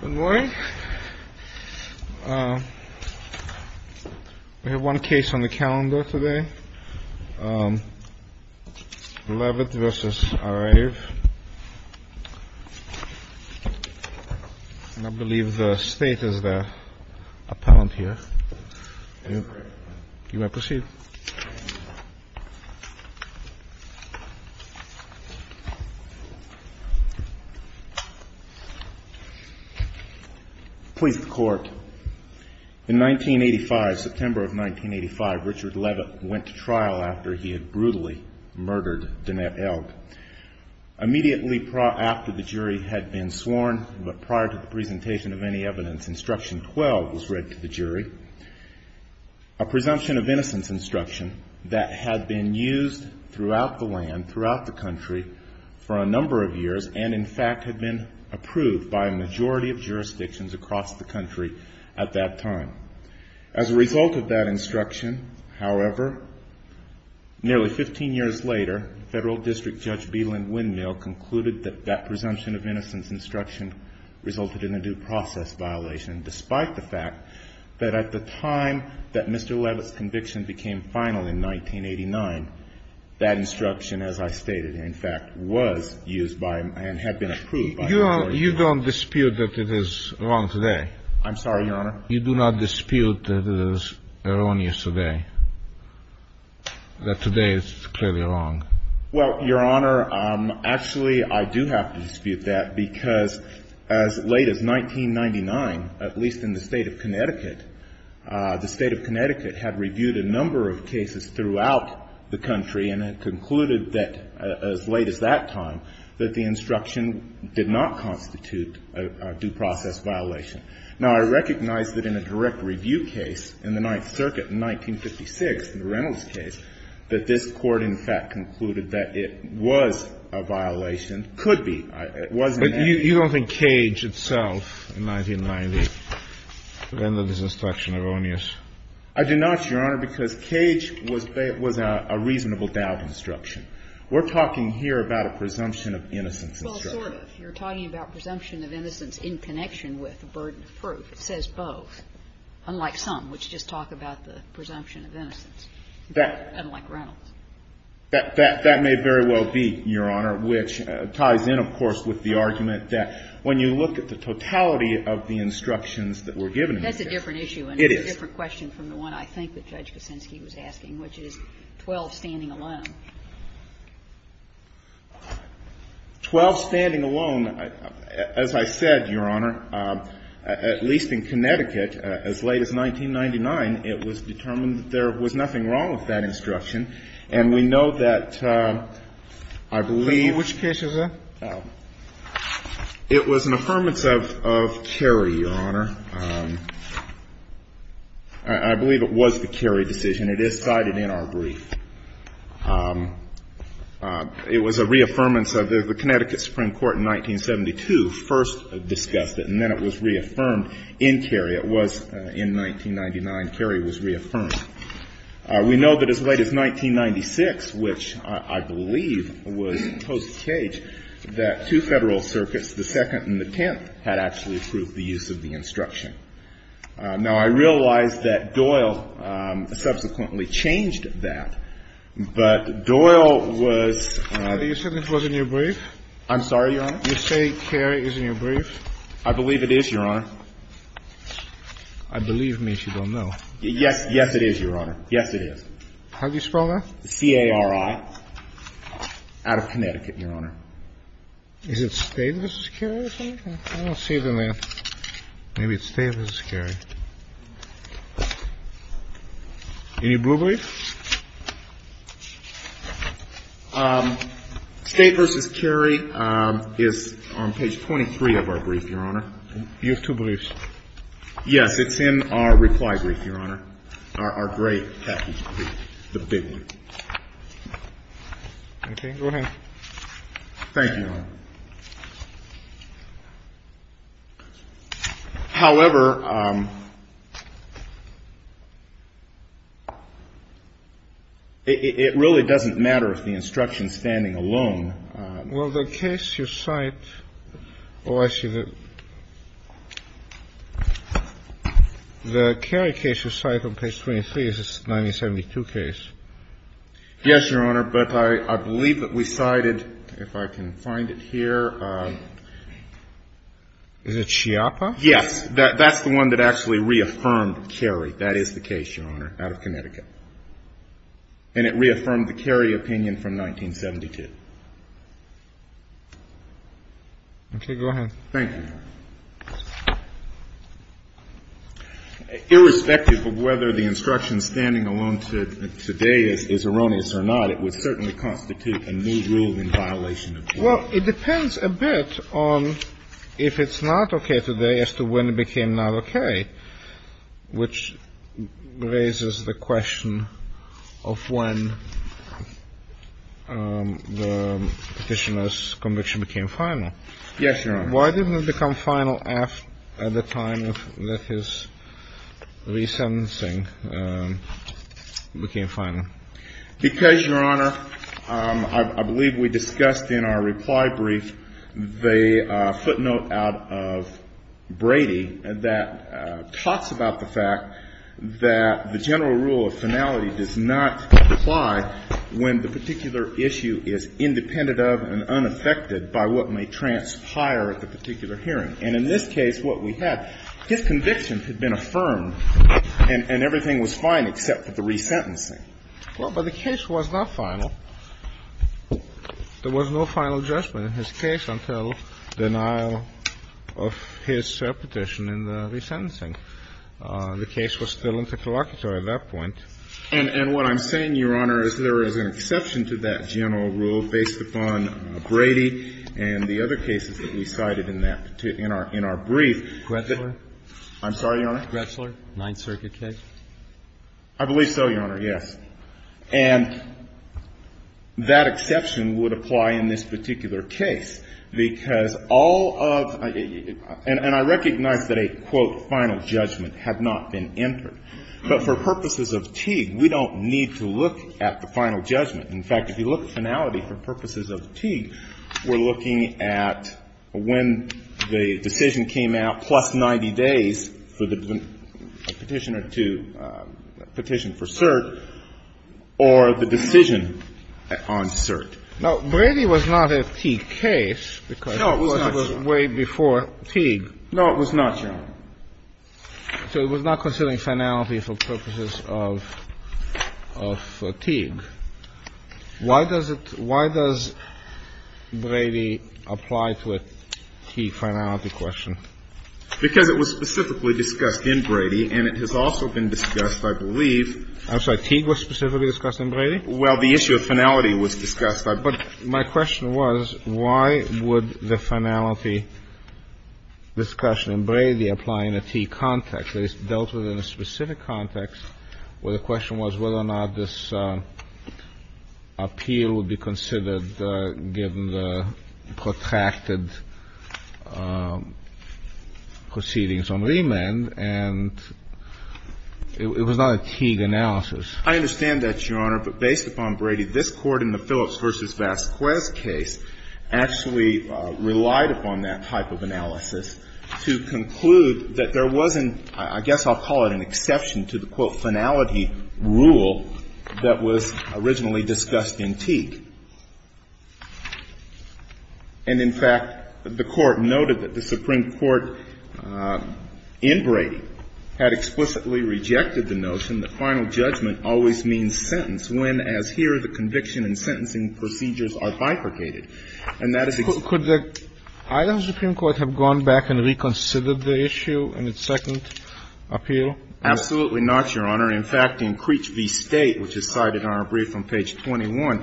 Good morning. We have one case on the calendar today. Leavitt v. Arave. I believe the state is the appellant here. You may proceed. Please, the court. In 1985, September of 1985, Richard Leavitt went to trial after he had brutally murdered Danette Elg. Immediately after the jury had been sworn, but prior to the presentation of any evidence, instruction 12 was read to the jury. A presumption of innocence instruction. That had been used throughout the land, throughout the country, for a number of years, and in fact had been approved by a majority of jurisdictions across the country at that time. As a result of that instruction, however, nearly 15 years later, Federal District Judge B. Lynn Windmill concluded that that presumption of innocence instruction resulted in a due process violation, despite the fact that at the time that Mr. Leavitt's conviction became final in 1989, that instruction, as I stated, in fact, was used by and had been approved by a majority of jurisdictions. You don't dispute that it is wrong today? I'm sorry, Your Honor? You do not dispute that it is erroneous today, that today it's clearly wrong? Well, Your Honor, actually, I do have to dispute that because as late as 1999, at least in the State of Connecticut, the State of Connecticut had reviewed a number of cases throughout the country and had concluded that as late as that time, that the instruction did not constitute a due process violation. Now, I recognize that in a direct review case in the Ninth Circuit in 1956, in the Reynolds case, that this Court, in fact, concluded that it was a violation, could be. It wasn't. But you don't think Cage itself in 1990 rendered this instruction erroneous? I do not, Your Honor, because Cage was a reasonable doubt instruction. We're talking here about a presumption of innocence instruction. Well, sort of. You're talking about presumption of innocence in connection with the burden of proof. It says both, unlike some, which just talk about the presumption of innocence, unlike Reynolds. That may very well be, Your Honor, which ties in, of course, with the argument that when you look at the totality of the instructions that were given here. That's a different issue. It is. And it's a different question from the one I think that Judge Kuczynski was asking, which is 12 standing alone. 12 standing alone, as I said, Your Honor, at least in Connecticut as late as 1999, it was determined that there was nothing wrong with that instruction. And we know that I believe. Which case is that? It was an affirmance of Kerry, Your Honor. I believe it was the Kerry decision. It is cited in our brief. It was a reaffirmance of the Connecticut Supreme Court in 1972 first discussed it, and then it was reaffirmed in Kerry. It was in 1999. Kerry was reaffirmed. We know that as late as 1996, which I believe was post-Kage, that two Federal circuits, the Second and the Tenth, had actually approved the use of the instruction. Now, I realize that Doyle subsequently changed that, but Doyle was. You said it was in your brief? I'm sorry, Your Honor? You say Kerry is in your brief? I believe it is, Your Honor. I believe me if you don't know. Yes, it is, Your Honor. Yes, it is. How do you spell that? C-A-R-I, out of Connecticut, Your Honor. Is it State v. Kerry or something? I don't see it in there. Maybe it's State v. Kerry. Any blue brief? State v. Kerry is on page 23 of our brief, Your Honor. You have two briefs. Yes. It's in our reply brief, Your Honor, our great package brief, the big one. Okay. Go ahead. Thank you, Your Honor. However, it really doesn't matter if the instruction's standing alone. Well, the case you cite, oh, I see. The Kerry case you cite on page 23 is a 1972 case. Yes, Your Honor. But I believe that we cited, if I can find it here, is it Chiappa? Yes. That's the one that actually reaffirmed Kerry. That is the case, Your Honor, out of Connecticut. And it reaffirmed the Kerry opinion from 1972. Okay. Go ahead. Thank you. Irrespective of whether the instruction standing alone today is erroneous or not, it would certainly constitute a new rule in violation of the law. Well, it depends a bit on if it's not okay today as to when it became not okay, which raises the question of when the Petitioner's conviction became final. Yes, Your Honor. Why didn't it become final at the time that his resentencing became final? Because, Your Honor, I believe we discussed in our reply brief the footnote out of Brady that talks about the fact that the general rule of finality does not apply when the particular issue is independent of and unaffected by what may transpire at the particular hearing. And in this case, what we had, his convictions had been affirmed and everything was fine except for the resentencing. Well, but the case was not final. There was no final judgment in his case until denial of his petition in the resentencing. The case was still intercolloquial at that point. And what I'm saying, Your Honor, is there is an exception to that general rule based upon Brady and the other cases that we cited in our brief. Gretzler. I'm sorry, Your Honor. Gretzler, Ninth Circuit case. I believe so, Your Honor, yes. And that exception would apply in this particular case, because all of the ‑‑ and I recognize that a, quote, final judgment had not been entered. But for purposes of Teague, we don't need to look at the final judgment. In fact, if you look at finality for purposes of Teague, we're looking at when the petition for cert or the decision on cert. Now, Brady was not a Teague case because it was way before Teague. No, it was not, Your Honor. So it was not considering finality for purposes of Teague. Why does it ‑‑ why does Brady apply to a Teague finality question? Because it was specifically discussed in Brady, and it has also been discussed, I believe ‑‑ I'm sorry. Teague was specifically discussed in Brady? Well, the issue of finality was discussed. But my question was, why would the finality discussion in Brady apply in a Teague context? It is dealt with in a specific context where the question was whether or not this appeal would be considered given the protracted proceedings on remand. And it was not a Teague analysis. I understand that, Your Honor. But based upon Brady, this Court in the Phillips v. Vasquez case actually relied upon that type of analysis to conclude that there wasn't, I guess I'll call it an exception to the, quote, finality rule that was originally discussed in Teague. And, in fact, the Court noted that the Supreme Court in Brady had explicitly rejected the notion that final judgment always means sentence when, as here, the conviction and sentencing procedures are bifurcated. And that is ‑‑ Could the Idaho Supreme Court have gone back and reconsidered the issue in its second appeal? Absolutely not, Your Honor. In fact, in Creech v. State, which is cited on our brief on page 21,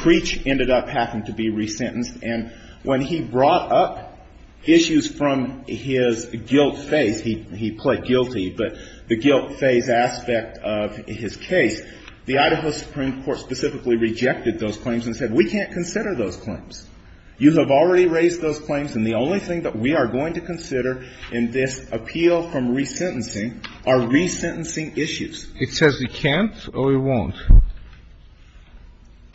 Creech ended up having to be resentenced. And when he brought up issues from his guilt phase, he pled guilty, but the guilt phase aspect of his case, the Idaho Supreme Court specifically rejected those claims and said, we can't consider those claims. You have already raised those claims, and the only thing that we are going to consider in this appeal from resentencing are resentencing issues. It says we can't or we won't?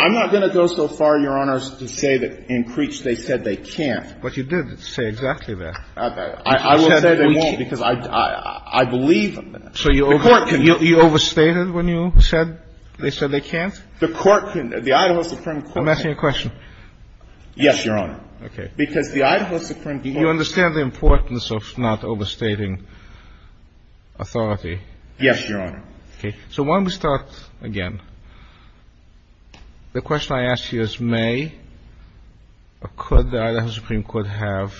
I'm not going to go so far, Your Honor, to say that in Creech they said they can't. But you did say exactly that. I will say they won't, because I believe in that. So you overstated when you said they said they can't? The court couldn't. The Idaho Supreme Court couldn't. I'm asking a question. Yes, Your Honor. Okay. You understand the importance of not overstating authority? Yes, Your Honor. Okay. So why don't we start again? The question I ask you is may or could the Idaho Supreme Court have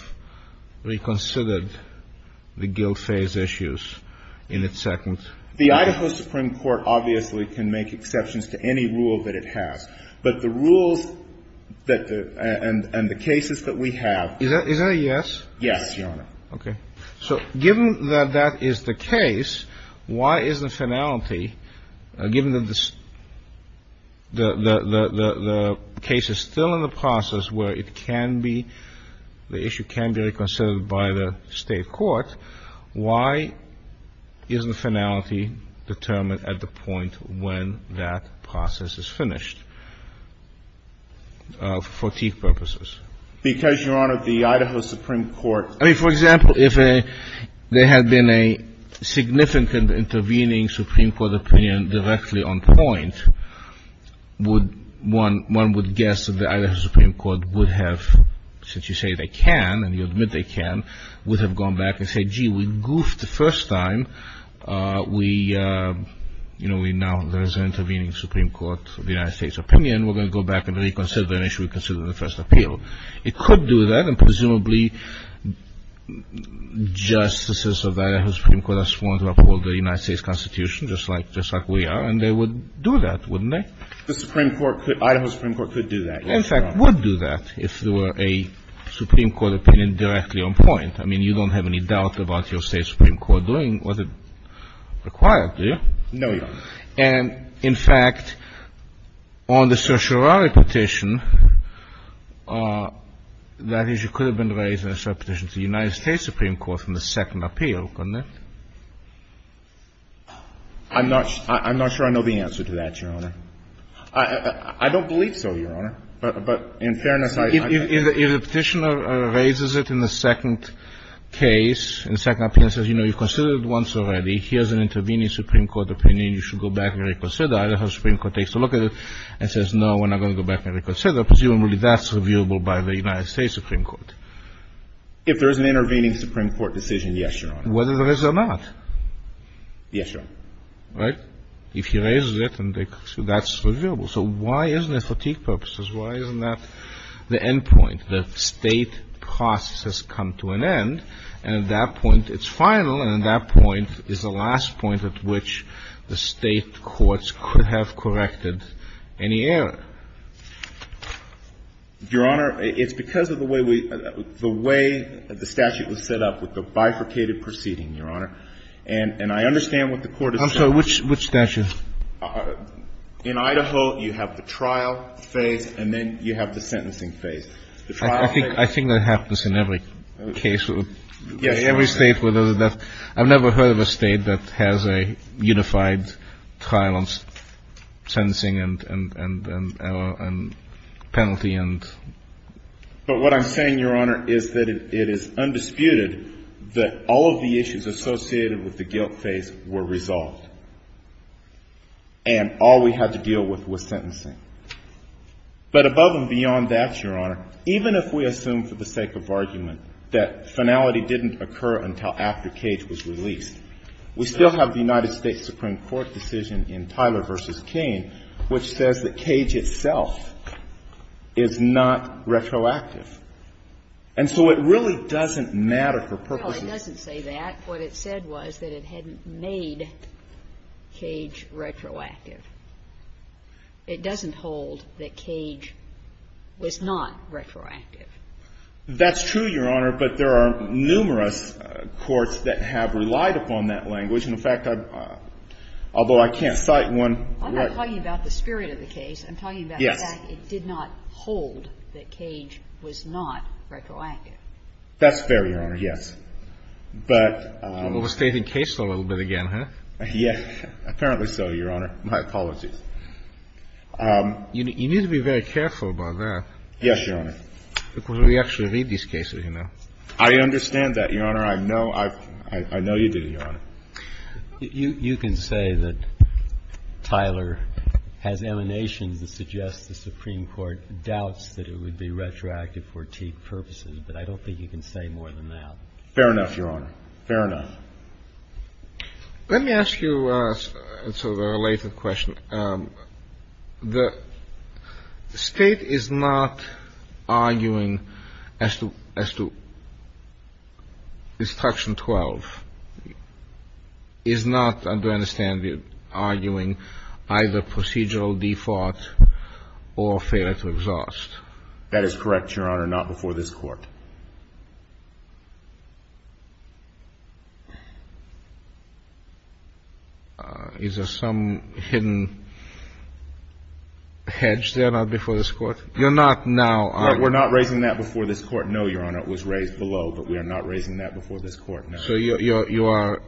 reconsidered the guilt phase issues in its second? The Idaho Supreme Court obviously can make exceptions to any rule that it has. But the rules and the cases that we have. Is that a yes? Yes, Your Honor. Okay. So given that that is the case, why is the finality, given the case is still in the process where it can be, the issue can be reconsidered by the state court, why isn't the finality determined at the point when that process is finished for teeth purposes? Because, Your Honor, the Idaho Supreme Court. I mean, for example, if there had been a significant intervening Supreme Court opinion directly on point, one would guess that the Idaho Supreme Court would have, since you say they can and you admit they can, would have gone back and said, gee, we goofed the first time. We, you know, we now, there is an intervening Supreme Court of the United States opinion. We're going to go back and reconsider the issue we considered in the first appeal. It could do that. And presumably justices of Idaho Supreme Court are sworn to uphold the United States Constitution, just like we are, and they would do that, wouldn't they? The Supreme Court, Idaho Supreme Court could do that. Yes, Your Honor. I would do that if there were a Supreme Court opinion directly on point. I mean, you don't have any doubt about your State Supreme Court doing what it required, do you? No, Your Honor. And, in fact, on the certiorari petition, that issue could have been raised in a cert petition to the United States Supreme Court from the second appeal, couldn't it? I'm not sure I know the answer to that, Your Honor. I don't believe so, Your Honor. But in fairness, I don't. If the petitioner raises it in the second case, in the second appeal and says, you know, you've considered it once already. Here's an intervening Supreme Court opinion. You should go back and reconsider. Idaho Supreme Court takes a look at it and says, no, we're not going to go back and reconsider. Presumably that's reviewable by the United States Supreme Court. If there is an intervening Supreme Court decision, yes, Your Honor. Whether there is or not. Yes, Your Honor. Right? If he raises it and that's reviewable. So why isn't it fatigue purposes? Why isn't that the end point? The State process has come to an end, and at that point it's final, and at that point is the last point at which the State courts could have corrected any error. Your Honor, it's because of the way we – the way the statute was set up with the bifurcated And I understand what the Court is saying. I'm sorry, which statute? In Idaho, you have the trial phase, and then you have the sentencing phase. I think that happens in every case. Yes. Every State where there's a death. I've never heard of a State that has a unified trial and sentencing and penalty and – But what I'm saying, Your Honor, is that it is undisputed that all of the issues associated with the guilt phase were resolved, and all we had to deal with was sentencing. But above and beyond that, Your Honor, even if we assume for the sake of argument that finality didn't occur until after Cage was released, we still have the United States Supreme Court decision in Tyler v. Cain which says that Cage itself is not retroactive. And so it really doesn't matter for purposes of – But what it said was that it hadn't made Cage retroactive. It doesn't hold that Cage was not retroactive. That's true, Your Honor, but there are numerous courts that have relied upon that language. In fact, although I can't cite one – I'm not talking about the spirit of the case. I'm talking about the fact it did not hold that Cage was not retroactive. That's fair, Your Honor, yes. But – You're overstating the case a little bit again, huh? Yes. Apparently so, Your Honor. My apologies. You need to be very careful about that. Yes, Your Honor. Because we actually read these cases, you know. I understand that, Your Honor. I know you didn't, Your Honor. You can say that Tyler has emanations that suggest the Supreme Court doubts that it would be retroactive for Teague purposes, but I don't think you can say more than that. Fair enough, Your Honor. Fair enough. Let me ask you sort of a related question. The State is not arguing as to – as to Destruction 12 is not, I understand, arguing either procedural default or failure to exhaust. That is correct, Your Honor, not before this Court. Is there some hidden hedge there, not before this Court? You're not now arguing – We're not raising that before this Court, no, Your Honor. It was raised below, but we are not raising that before this Court, no. So you are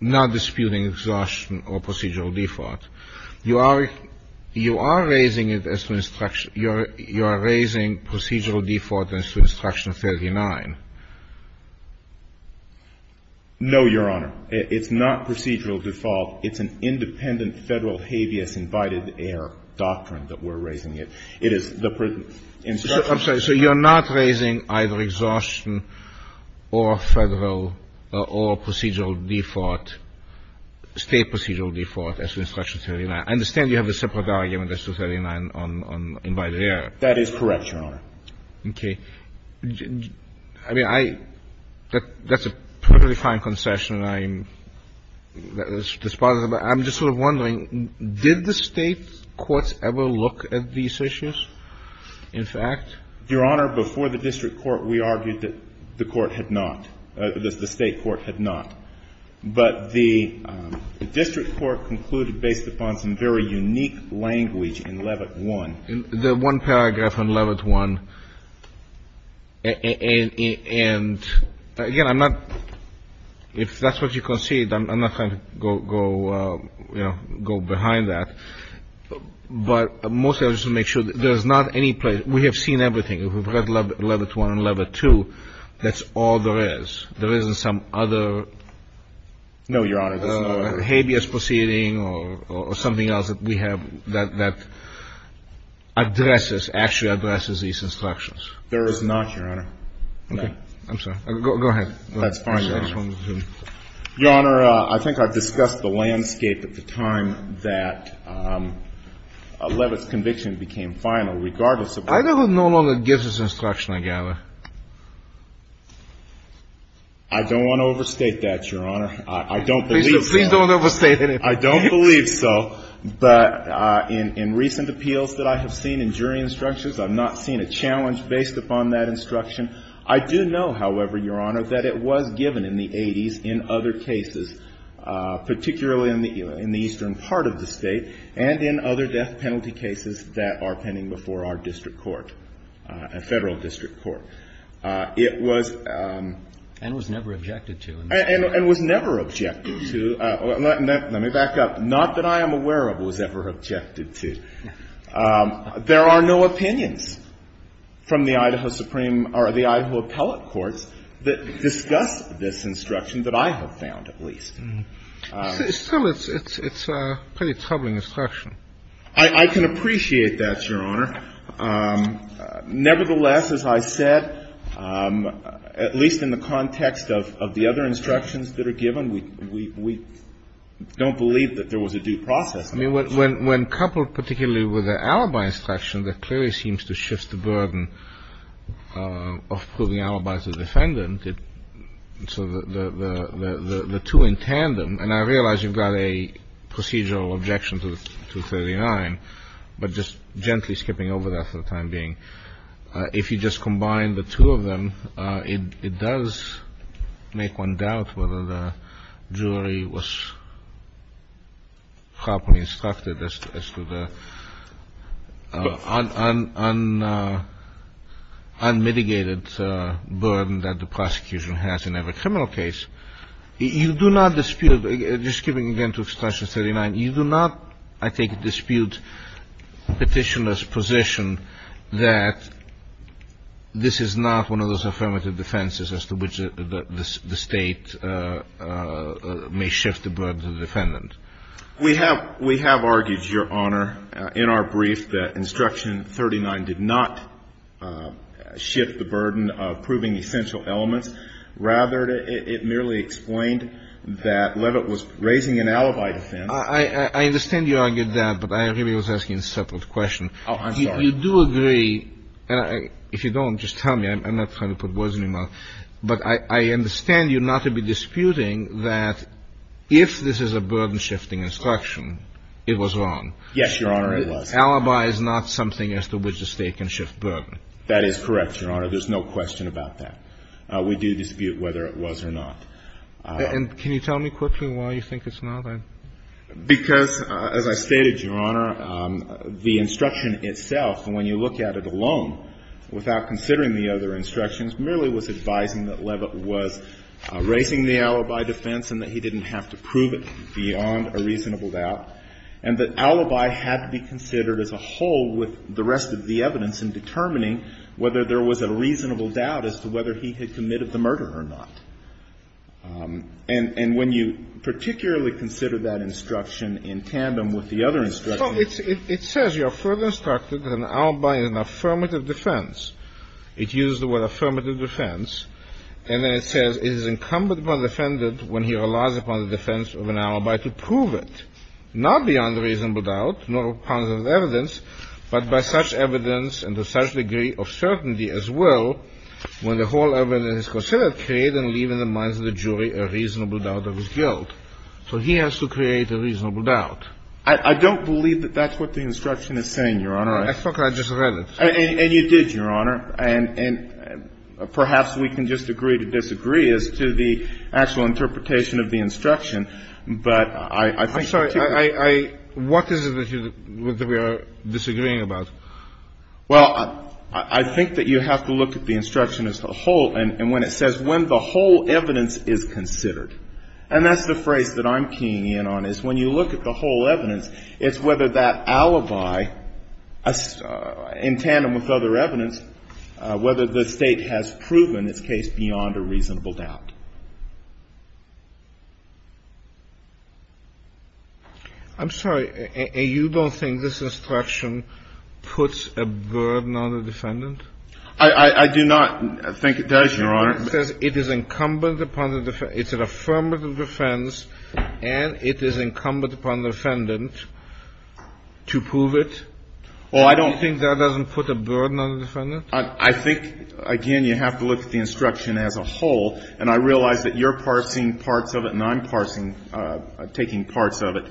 not disputing exhaustion or procedural default. You are – you are raising it as to – you are raising procedural default as to Destruction 39. No, Your Honor. It's not procedural default. It's an independent Federal habeas invited air doctrine that we're raising it. It is the – I'm sorry. So you're not raising either exhaustion or Federal or procedural default, State procedural default as to Destruction 39. I understand you have a separate argument as to 39 on invited air. That is correct, Your Honor. Okay. I mean, I – that's a perfectly fine concession. I'm just sort of wondering, did the State courts ever look at these issues, in fact? Your Honor, before the district court, we argued that the court had not – the State court had not. But the district court concluded based upon some very unique language in Levitt 1. The one paragraph on Levitt 1, and, again, I'm not – if that's what you concede, I'm not going to go, you know, go behind that. But mostly I just want to make sure that there's not any place – we have seen everything. We've read Levitt 1 and Levitt 2. That's all there is. There isn't some other – No, Your Honor. There's no other. Habeas proceeding or something else that we have that addresses, actually addresses these instructions. There is not, Your Honor. I'm sorry. Go ahead. That's fine, Your Honor. Your Honor, I think I've discussed the landscape at the time that Levitt's conviction became final, regardless of – I don't know whether Gibbs's instruction, I gather. I don't want to overstate that, Your Honor. I don't believe so. Please don't overstate it. I don't believe so. But in recent appeals that I have seen in jury instructions, I've not seen a challenge based upon that instruction. I do know, however, Your Honor, that it was given in the 80s in other cases, particularly in the eastern part of the State and in other death penalty cases that are pending before our district court, federal district court. It was – And was never objected to. And was never objected to. Let me back up. Not that I am aware of was ever objected to. There are no opinions from the Idaho Supreme – or the Idaho appellate courts that discuss this instruction that I have found, at least. Still, it's a pretty troubling instruction. I can appreciate that, Your Honor. Nevertheless, as I said, at least in the context of the other instructions that are given, we don't believe that there was a due process. I mean, when coupled particularly with the alibi instruction, that clearly seems to shift the burden of proving alibi to the defendant. So the two in tandem – and I realize you've got a procedural objection to 239, but just gently skipping over that for the time being – if you just combine the two of them, it does make one doubt whether the jury was properly instructed as to the unmitigated burden that the prosecution has in every criminal case. You do not dispute – just skipping again to instruction 39 – you do not, I think, dispute Petitioner's position that this is not one of those affirmative defenses as to which the State may shift the burden to the defendant. We have argued, Your Honor, in our brief, that instruction 39 did not shift the burden of proving essential elements. Rather, it merely explained that Levitt was raising an alibi defense. I understand you argued that, but I really was asking a separate question. Oh, I'm sorry. You do agree – and if you don't, just tell me. I'm not trying to put words in your mouth. But I understand you not to be disputing that if this is a burden-shifting instruction, it was wrong. Yes, Your Honor, it was. Alibi is not something as to which the State can shift burden. That is correct, Your Honor. There's no question about that. We do dispute whether it was or not. And can you tell me quickly why you think it's not? Because, as I stated, Your Honor, the instruction itself, when you look at it alone without considering the other instructions, merely was advising that Levitt was raising the alibi defense and that he didn't have to prove it beyond a reasonable doubt, and that alibi had to be considered as a whole with the rest of the evidence in determining whether there was a reasonable doubt as to whether he had committed the murder or not. And when you particularly consider that instruction in tandem with the other instructions Well, it says you are further instructed that an alibi is an affirmative defense. It used the word affirmative defense, and then it says it is incumbent upon the defendant when he relies upon the defense of an alibi to prove it, not beyond a reasonable doubt, not upon the evidence, but by such evidence and to such degree of certainty as will, when the whole evidence is considered, create and leave in the minds of the jury a reasonable doubt of his guilt. So he has to create a reasonable doubt. I don't believe that that's what the instruction is saying, Your Honor. I think I just read it. And you did, Your Honor. And perhaps we can just agree to disagree as to the actual interpretation of the instruction. I'm sorry. What is it that we are disagreeing about? Well, I think that you have to look at the instruction as a whole. And when it says when the whole evidence is considered, and that's the phrase that I'm keying in on, is when you look at the whole evidence, it's whether that alibi, in tandem with other evidence, whether the State has proven its case beyond a reasonable doubt. I'm sorry. You don't think this instruction puts a burden on the defendant? I do not think it does, Your Honor. It says it is incumbent upon the defendant. It's an affirmative defense, and it is incumbent upon the defendant to prove it. Do you think that doesn't put a burden on the defendant? I think, again, you have to look at the instruction as a whole. And I realize that you're parsing parts of it and I'm parsing, taking parts of it.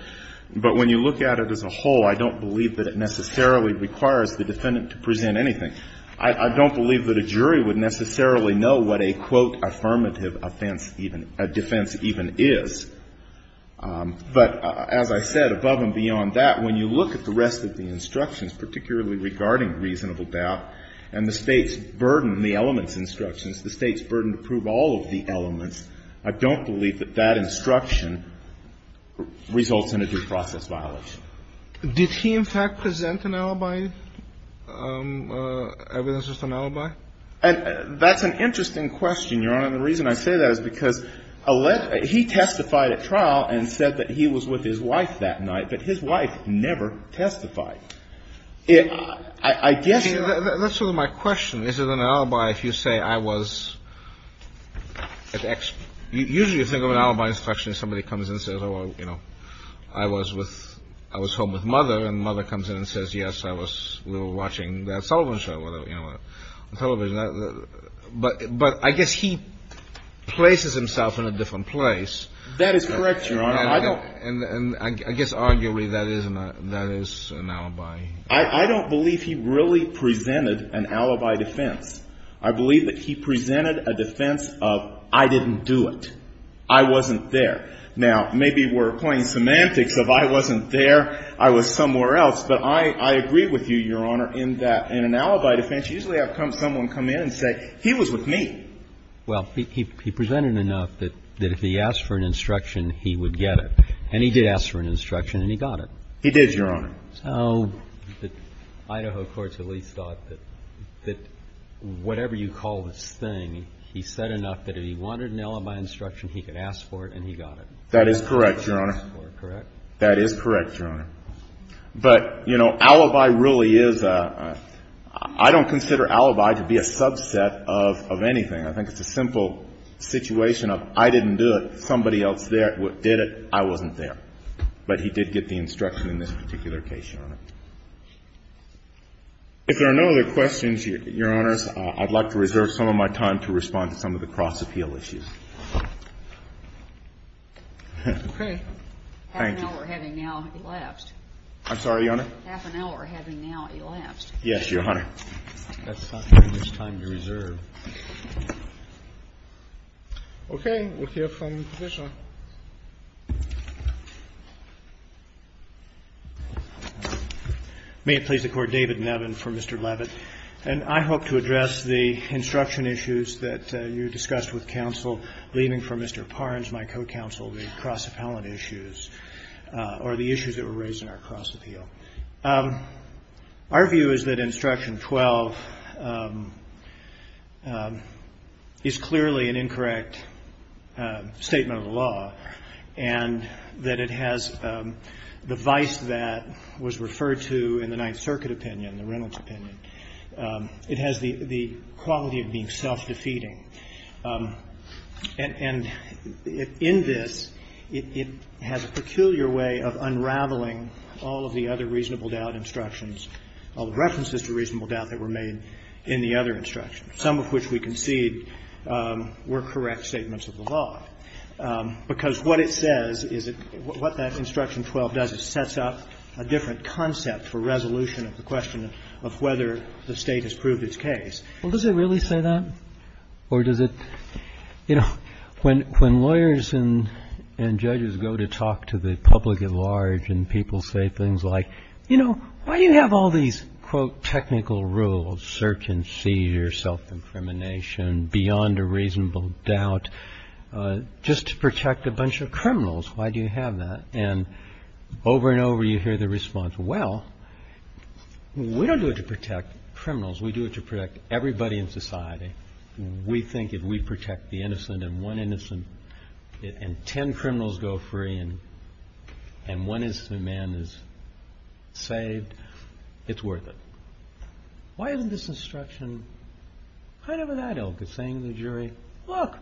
But when you look at it as a whole, I don't believe that it necessarily requires the defendant to present anything. I don't believe that a jury would necessarily know what a, quote, affirmative offense even, a defense even is. But as I said, above and beyond that, when you look at the rest of the instructions, particularly regarding reasonable doubt, and the State's burden, the elements instructions, the State's burden to prove all of the elements, I don't believe that that instruction results in a due process violation. Did he, in fact, present an alibi, evidence as an alibi? That's an interesting question, Your Honor. And the reason I say that is because he testified at trial and said that he was with his wife that night, but his wife never testified. I guess. That's sort of my question. Is it an alibi if you say I was, usually you think of an alibi instruction if somebody comes in and says, oh, you know, I was with, I was home with mother and mother comes in and says, yes, I was, we were watching that Sullivan show, whatever, you know, on television. But I guess he places himself in a different place. That is correct, Your Honor. And I guess arguably that is an alibi. I don't believe he really presented an alibi defense. I believe that he presented a defense of I didn't do it. I wasn't there. Now, maybe we're playing semantics of I wasn't there, I was somewhere else. But I agree with you, Your Honor, in that in an alibi defense, usually I've come someone come in and say he was with me. Well, he presented enough that if he asked for an instruction, he would get it. And he did ask for an instruction and he got it. He did, Your Honor. So Idaho courts at least thought that whatever you call this thing, he said enough that if he wanted an alibi instruction, he could ask for it and he got it. That is correct, Your Honor. That is correct, Your Honor. But, you know, alibi really is a, I don't consider alibi to be a subset of anything. I think it's a simple situation of I didn't do it, somebody else did it, I wasn't there. But he did get the instruction in this particular case, Your Honor. If there are no other questions, Your Honors, I'd like to reserve some of my time to respond to some of the cross-appeal issues. Okay. Thank you. Half an hour having now elapsed. I'm sorry, Your Honor? Half an hour having now elapsed. Yes, Your Honor. That's not very much time to reserve. Okay. We'll hear from the Professor. May it please the Court. David Nevin for Mr. Levitt. And I hope to address the instruction issues that you discussed with counsel leaving for Mr. Parnes, my co-counsel, the cross-appellant issues or the issues that were raised in our cross-appeal. Our view is that Instruction 12 is clearly an incorrect statement of the law. And that it has the vice that was referred to in the Ninth Circuit opinion, the Reynolds opinion. It has the quality of being self-defeating. And in this, it has a peculiar way of unraveling all of the other reasonable doubt instructions, all the references to reasonable doubt that were made in the other instructions, some of which we concede were correct statements of the law. Because what it says is that what that Instruction 12 does is sets up a different concept for resolution of the question of whether the State has proved its case. Well, does it really say that? Or does it, you know, when lawyers and judges go to talk to the public at large and people say things like, you know, why do you have all these, quote, technical rules, search and seizure, self-incrimination, beyond a reasonable doubt, just to protect a bunch of criminals? Why do you have that? And over and over you hear the response, well, we don't do it to protect criminals. We do it to protect everybody in society. We think if we protect the innocent and one innocent and ten criminals go free and one innocent man is saved, it's worth it. Why isn't this instruction kind of that ill? Because saying to the jury, look,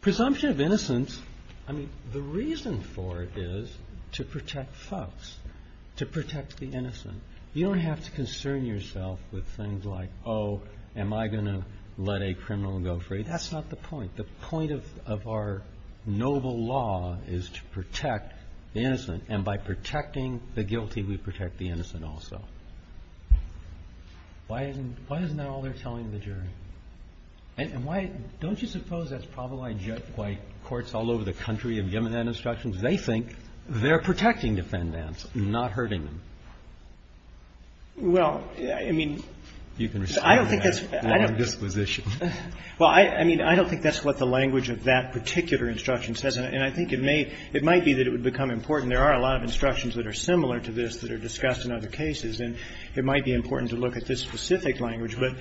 presumption of innocence, I mean, the reason why it's so important is because you don't have to concern yourself with things like, oh, am I going to let a criminal go free? That's not the point. The point of our noble law is to protect the innocent. And by protecting the guilty, we protect the innocent also. Why isn't that all they're telling the jury? And why don't you suppose that's probably why courts all over the country have given that instruction? They think they're protecting defendants, not hurting them. Well, I mean, I don't think that's what the language of that particular instruction says. And I think it may, it might be that it would become important. There are a lot of instructions that are similar to this that are discussed in other cases. And it might be important to look at this specific language, but,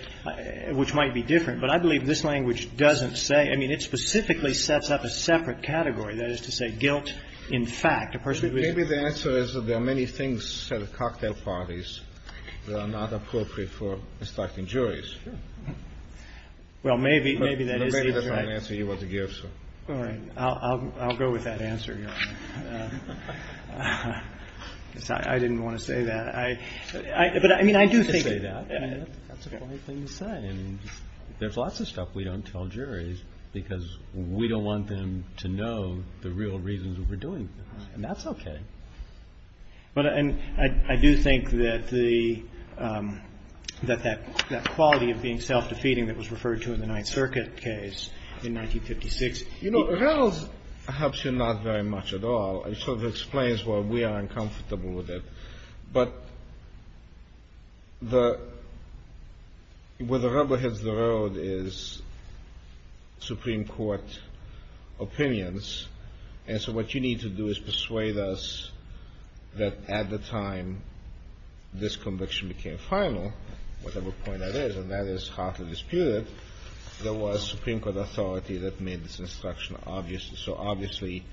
which might be different. But I believe this language doesn't say, I mean, it specifically sets up a separate category, that is to say, guilt in fact, a person who is. Maybe the answer is that there are many things, cocktail parties, that are not appropriate for distracting juries. Sure. Well, maybe, maybe that is the exact. But maybe that's not an answer you want to give, so. All right. I'll go with that answer, Your Honor. I didn't want to say that. I, but I mean, I do think. You didn't say that. That's a funny thing to say. And there's lots of stuff we don't tell juries because we don't want them to know the real reasons that we're doing this. And that's okay. But, and I do think that the, that that, that quality of being self-defeating that was referred to in the Ninth Circuit case in 1956. You know, Reynolds helps you not very much at all. And so that explains why we are uncomfortable with it. But the, where the rubber hits the road is Supreme Court opinions. And so what you need to do is persuade us that at the time this conviction became final, whatever point that is, and that is hotly disputed, there was Supreme Court authority that made this instruction obvious. So obviously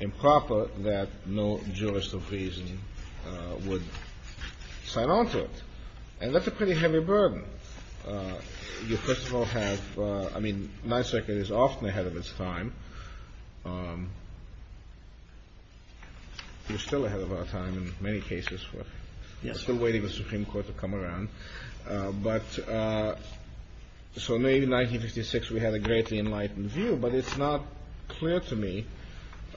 improper that no jurist of reason would sign on to it. And that's a pretty heavy burden. You first of all have, I mean, Ninth Circuit is often ahead of its time. You're still ahead of our time in many cases. We're still waiting for the Supreme Court to come around. But so maybe in 1956 we had a greatly enlightened view. But it's not clear to me,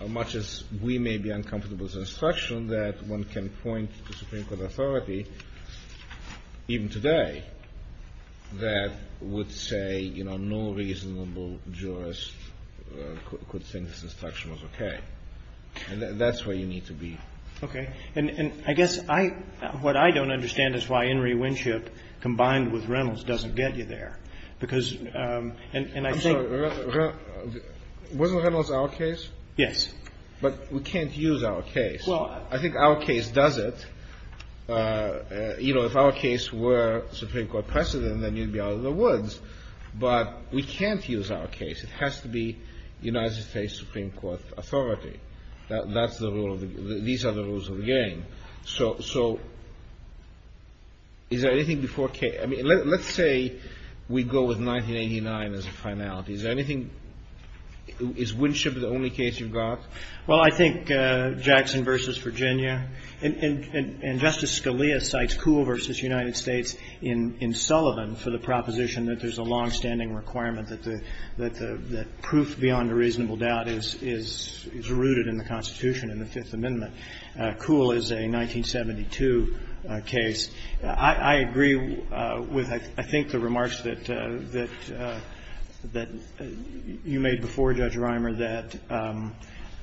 much as we may be uncomfortable with this instruction, that one can point to Supreme Court authority, even today, that would say, you know, no reasonable jurist could think this instruction was okay. And that's where you need to be. Okay. And I guess I, what I don't understand is why In re Winship combined with Reynolds doesn't get you there. Because, and I think. Wasn't Reynolds our case? Yes. But we can't use our case. Well, I think our case does it. You know, if our case were Supreme Court precedent, then you'd be out of the woods. But we can't use our case. It has to be United States Supreme Court authority. That's the rule. These are the rules of the game. So is there anything before case? I mean, let's say we go with 1989 as a finality. Is there anything, is Winship the only case you've got? Well, I think Jackson v. Virginia. And Justice Scalia cites Kuhl v. United States in Sullivan for the proposition that there's a longstanding requirement that the proof beyond a reasonable doubt is rooted in the Constitution in the Fifth Amendment. Kuhl is a 1972 case. I agree with, I think, the remarks that you made before Judge Reimer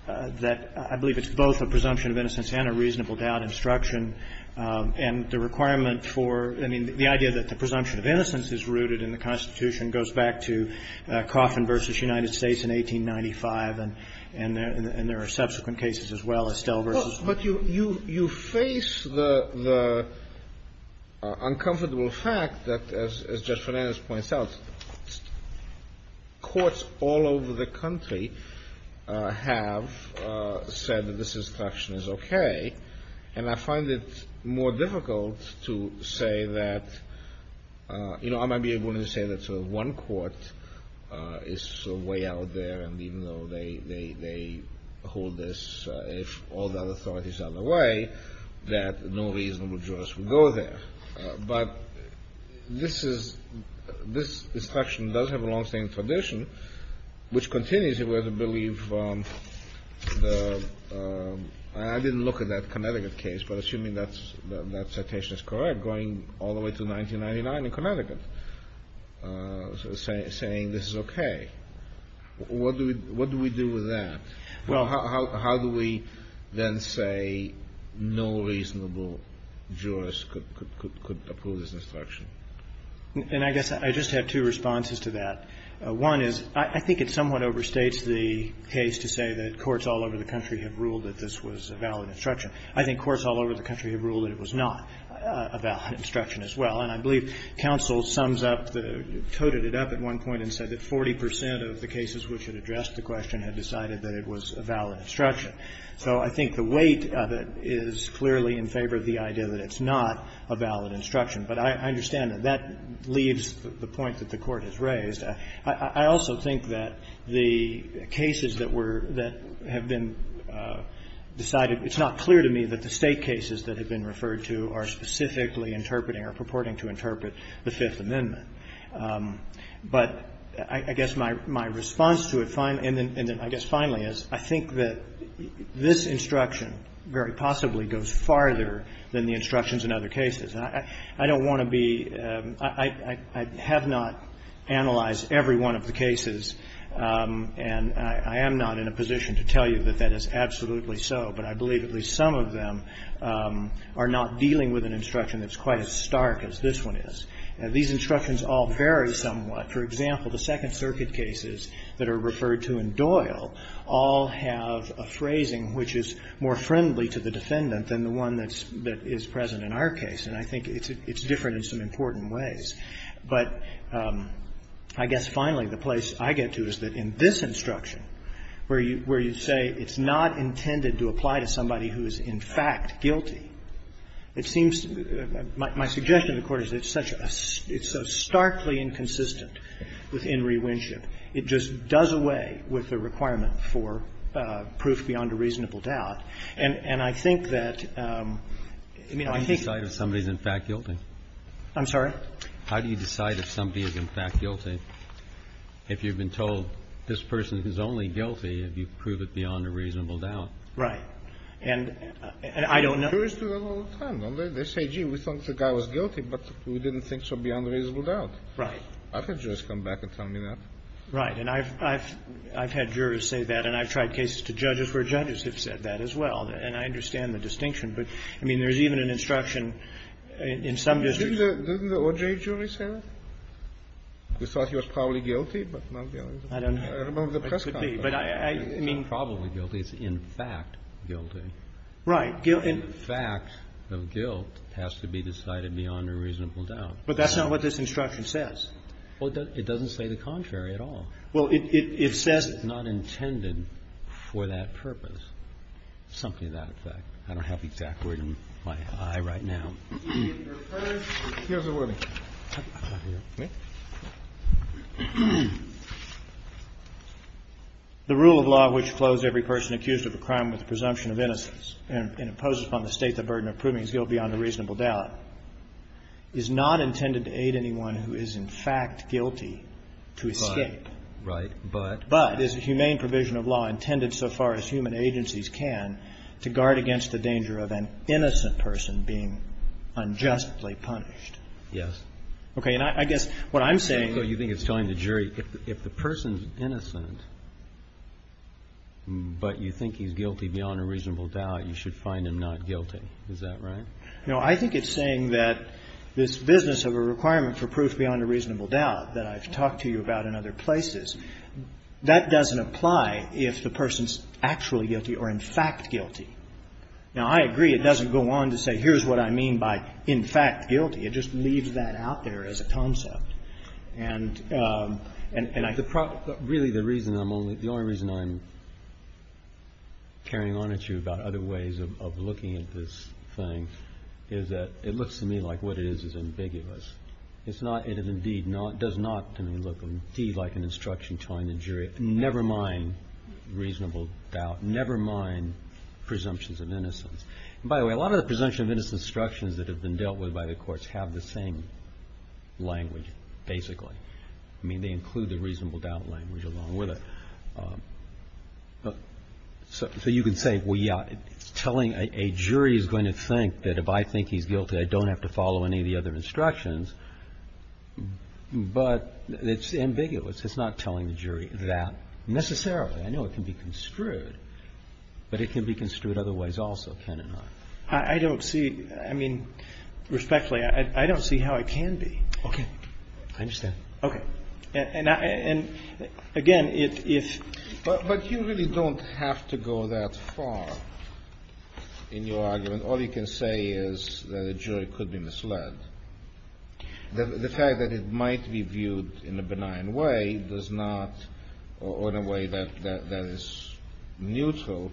that I believe it's both a presumption of innocence and a reasonable doubt instruction. And the requirement for, I mean, the idea that the presumption of innocence is rooted in the Constitution goes back to Coffin v. United States in 1895. And there are subsequent cases as well, Estelle v. But you face the uncomfortable fact that, as Judge Fernandez points out, courts all over the country have said that this instruction is okay. And I find it more difficult to say that, you know, I might be able to say that sort of one court is sort of way out there. And even though they hold this, if all the other authorities are in the way, that no reasonable jurist would go there. But this instruction does have a longstanding tradition, which continues. And I'm not sure whether to believe the – I didn't look at that Connecticut case, but assuming that citation is correct, going all the way to 1999 in Connecticut, saying this is okay. What do we do with that? How do we then say no reasonable jurist could approve this instruction? And I guess I just have two responses to that. One is I think it somewhat overstates the case to say that courts all over the country have ruled that this was a valid instruction. I think courts all over the country have ruled that it was not a valid instruction as well. And I believe counsel sums up the – coded it up at one point and said that 40 percent of the cases which had addressed the question had decided that it was a valid instruction. So I think the weight of it is clearly in favor of the idea that it's not a valid instruction. But I understand that that leaves the point that the Court has raised. I also think that the cases that were – that have been decided – it's not clear to me that the State cases that have been referred to are specifically interpreting or purporting to interpret the Fifth Amendment. But I guess my response to it – and then I guess finally is I think that this instruction very possibly goes farther than the instructions in other cases. I don't want to be – I have not analyzed every one of the cases. And I am not in a position to tell you that that is absolutely so. But I believe at least some of them are not dealing with an instruction that's quite as stark as this one is. These instructions all vary somewhat. For example, the Second Circuit cases that are referred to in Doyle all have a phrasing which is more friendly to the defendant than the one that's – that is present in our case, and I think it's different in some important ways. But I guess finally, the place I get to is that in this instruction, where you say it's not intended to apply to somebody who is in fact guilty, it seems – my suggestion to the Court is that it's such a – it's so starkly inconsistent with In re Winship. It just does away with the requirement for proof beyond a reasonable doubt. And I think that – I mean, I think – How do you decide if somebody is in fact guilty? I'm sorry? How do you decide if somebody is in fact guilty if you've been told this person is only guilty if you prove it beyond a reasonable doubt? Right. And I don't know – Jurors do that all the time. They say, gee, we thought the guy was guilty, but we didn't think so beyond a reasonable doubt. Right. I've had jurors come back and tell me that. Right. And I've – I've had jurors say that, and I've tried cases to judges where judges have said that as well. And I understand the distinction, but, I mean, there's even an instruction in some districts. Didn't the OJ jury say that? We thought he was probably guilty, but not guilty. I don't know. I remember the press conference. I mean, probably guilty is in fact guilty. Right. In fact, the guilt has to be decided beyond a reasonable doubt. But that's not what this instruction says. Well, it doesn't say the contrary at all. Well, it says – But it's not intended for that purpose. Something to that effect. I don't have the exact word in my eye right now. Here's the wording. The rule of law which flows every person accused of a crime with the presumption of innocence and imposes upon the State the burden of proving he's guilty beyond a reasonable doubt is not intended to aid anyone who is in fact guilty to escape. Right. But – But is a humane provision of law intended so far as human agencies can to guard against the danger of an innocent person being unjustly punished. Yes. Okay. And I guess what I'm saying – So you think it's telling the jury if the person's innocent, but you think he's guilty beyond a reasonable doubt, you should find him not guilty. Is that right? I think it's saying that this business of a requirement for proof beyond a reasonable doubt that I've talked to you about in other places, that doesn't apply if the person's actually guilty or in fact guilty. Now, I agree it doesn't go on to say here's what I mean by in fact guilty. It just leaves that out there as a concept. And I – Really, the reason I'm only – the only reason I'm carrying on at you about other ways of looking at this thing is that it looks to me like what it is is ambiguous. It's not – it indeed does not to me look indeed like an instruction telling the jury never mind reasonable doubt, never mind presumptions of innocence. And by the way, a lot of the presumptions of innocence instructions that have been dealt with by the courts have the same language, basically. I mean, they include the reasonable doubt language along with it. So you can say, well, yeah, telling – a jury is going to think that if I think he's a guilty, that's an instruction, but it's ambiguous. It's not telling the jury that necessarily. I know it can be construed, but it can be construed otherwise also, can it not? I don't see – I mean, respectfully, I don't see how it can be. Okay. I understand. Okay. And again, if – But you really don't have to go that far in your argument. All you can say is that a jury could be misled. The fact that it might be viewed in a benign way does not – or in a way that is neutral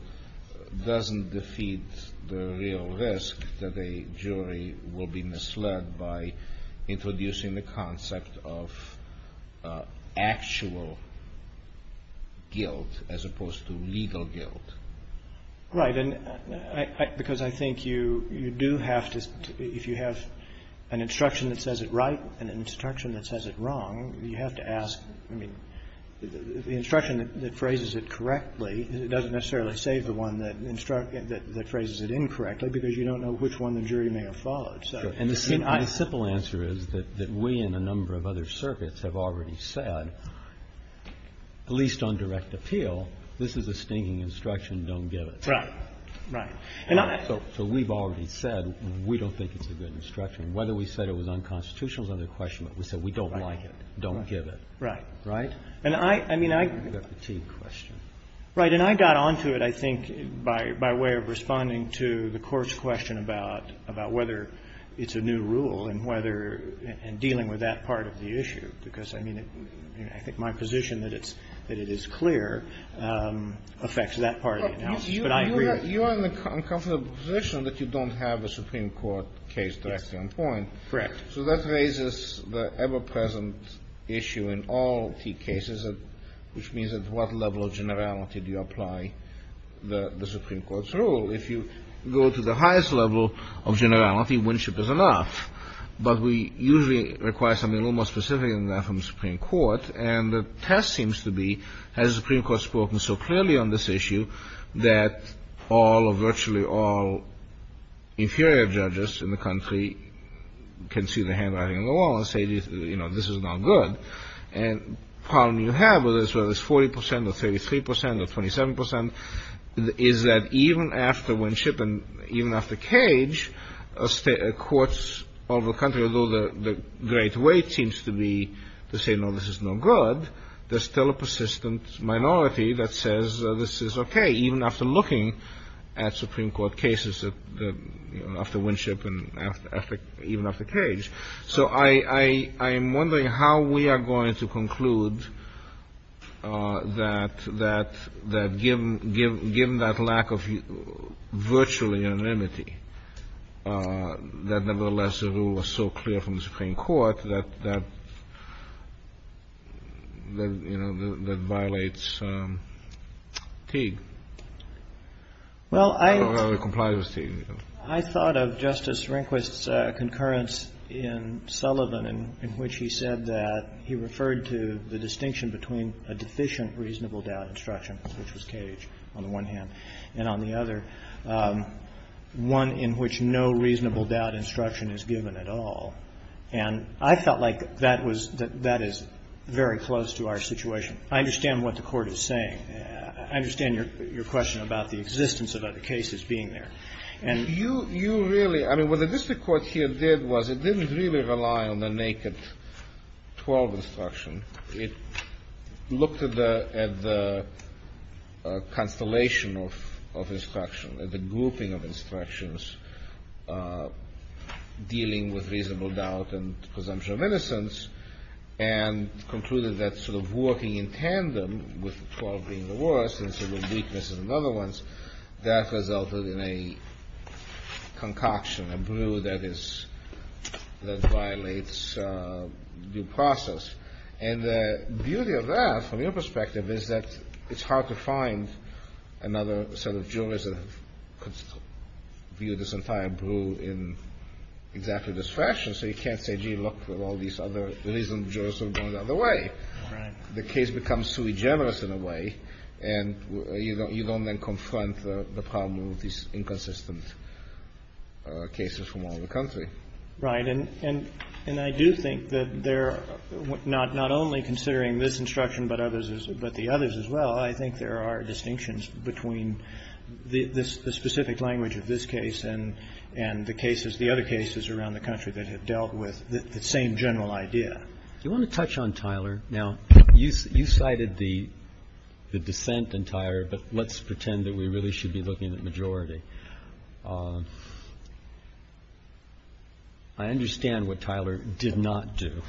doesn't defeat the real risk that a jury will be misled by introducing the concept of actual guilt as opposed to legal guilt. All right. And I – because I think you do have to – if you have an instruction that says it right and an instruction that says it wrong, you have to ask – I mean, the instruction that phrases it correctly doesn't necessarily save the one that phrases it incorrectly, because you don't know which one the jury may have followed. So you have to ask. And the simple answer is that we and a number of other circuits have already said, at least on direct appeal, this is a stinging instruction. Don't give it. Right. Right. And I – So we've already said we don't think it's a good instruction. Whether we said it was unconstitutional is another question. But we said we don't like it. Don't give it. Right. Right? And I – I mean, I – It's a fatigue question. Right. And I got on to it, I think, by way of responding to the Court's question about whether it's a new rule and whether – and dealing with that part of the issue, because, I mean, I think my position that it's – that it is clear affects that part of it now. But I agree – You are in the uncomfortable position that you don't have a Supreme Court case directly on point. Correct. So that raises the ever-present issue in all T cases, which means at what level of generality do you apply the Supreme Court's rule? If you go to the highest level of generality, winship is enough. But we usually require something a little more specific than that from the Supreme Court. And the test seems to be, has the Supreme Court spoken so clearly on this issue that all or virtually all inferior judges in the country can see the handwriting on the wall and say, you know, this is not good? And the problem you have with this, whether it's 40 percent or 33 percent or 27 percent, is that even after winship and even after cage, courts all over the country, although the great weight seems to be to say, no, this is no good, there's still a persistent minority that says this is okay, even after looking at Supreme Court cases after winship and even after cage. So I'm wondering how we are going to conclude that given that lack of virtually unanimity, that nevertheless the rule was so clear from the Supreme Court that, you know, that violates Teague or complies with Teague. I thought of Justice Rehnquist's concurrence in Sullivan in which he said that he referred to the distinction between a deficient reasonable doubt instruction, which was cage on the one hand, and on the other, one in which no reasonable doubt instruction is given at all. And I felt like that was, that is very close to our situation. I understand what the Court is saying. I understand your question about the existence of other cases being there. You really, I mean, what the district court here did was it didn't really rely on the naked 12 instruction. It looked at the constellation of instruction, at the grouping of instructions dealing with reasonable doubt and presumption of innocence and concluded that sort of looking in tandem with 12 being the worst and some of the weaknesses in the other ones, that resulted in a concoction, a brew that is, that violates due process. And the beauty of that, from your perspective, is that it's hard to find another sort of jurist that could view this entire brew in exactly this fashion. So you can't say, gee, look, there are all these other reasonable jurists that are going to do it the other way. The case becomes too generous in a way, and you don't then confront the problem of these inconsistent cases from all over the country. Right. And I do think that there are, not only considering this instruction but others, but the others as well, I think there are distinctions between the specific language of this case and the cases, the other cases around the country that have dealt with the same general idea. Do you want to touch on Tyler? Now, you cited the dissent in Tyler, but let's pretend that we really should be looking at majority. I understand what Tyler did not do.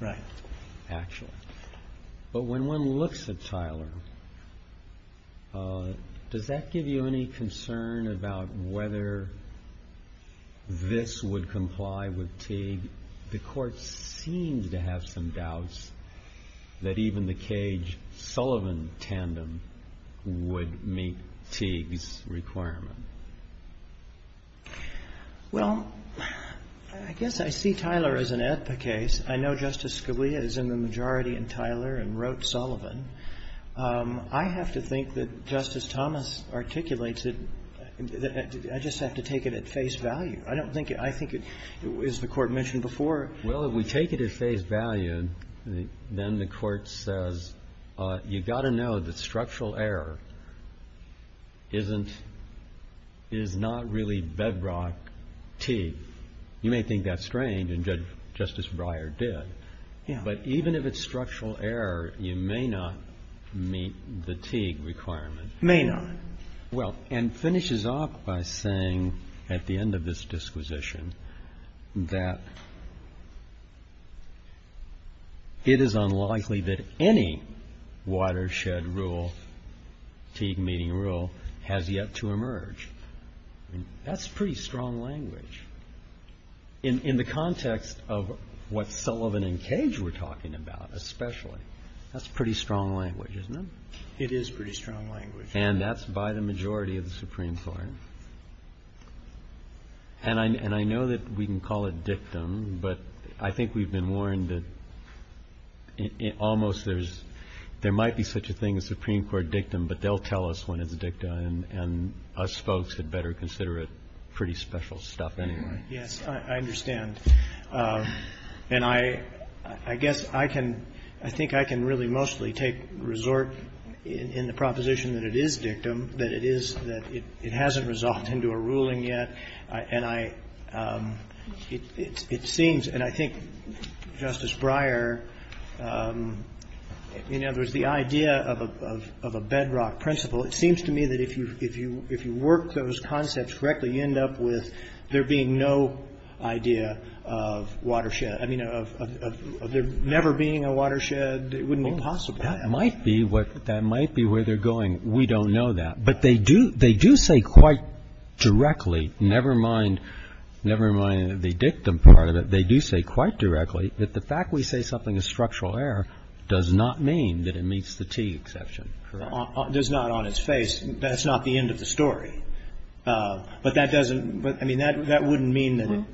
Right. Actually. But when one looks at Tyler, does that give you any concern about whether this would comply with Teague? The Court seems to have some doubts that even the Cage-Sullivan tandem would meet Teague's requirement. Well, I guess I see Tyler as an AEDPA case. I know Justice Scalia is in the majority in Tyler and wrote Sullivan. I have to think that Justice Thomas articulates it. I just have to take it at face value. I don't think it, I think it, as the Court mentioned before. Well, if we take it at face value, then the Court says you've got to know that structural error isn't, is not really bedrock Teague. You may think that's strange, and Justice Breyer did. Yeah. But even if it's structural error, you may not meet the Teague requirement. May not. Well, and finishes off by saying at the end of this disquisition that it is unlikely that any watershed rule, Teague meeting rule, has yet to emerge. That's pretty strong language. In the context of what Sullivan and Cage were talking about especially. That's pretty strong language, isn't it? It is pretty strong language. And that's by the majority of the Supreme Court. And I know that we can call it dictum, but I think we've been warned that almost there's, there might be such a thing as Supreme Court dictum, but they'll tell us when it's dictum, and us folks had better consider it pretty special stuff anyway. Yes, I understand. And I guess I can, I think I can really mostly take, resort in the proposition that it is dictum, that it is, that it hasn't resolved into a ruling yet. And I, it seems, and I think Justice Breyer, in other words, the idea of a bedrock principle, it seems to me that if you work those concepts correctly, you end up with there being no idea of watershed, I mean, of there never being a watershed, it wouldn't be possible. That might be what, that might be where they're going. We don't know that. But they do, they do say quite directly, never mind, never mind the dictum part of it, they do say quite directly that the fact we say something is structural error does not mean that it meets the T exception. Does not on its face. That's not the end of the story. But that doesn't, I mean, that wouldn't mean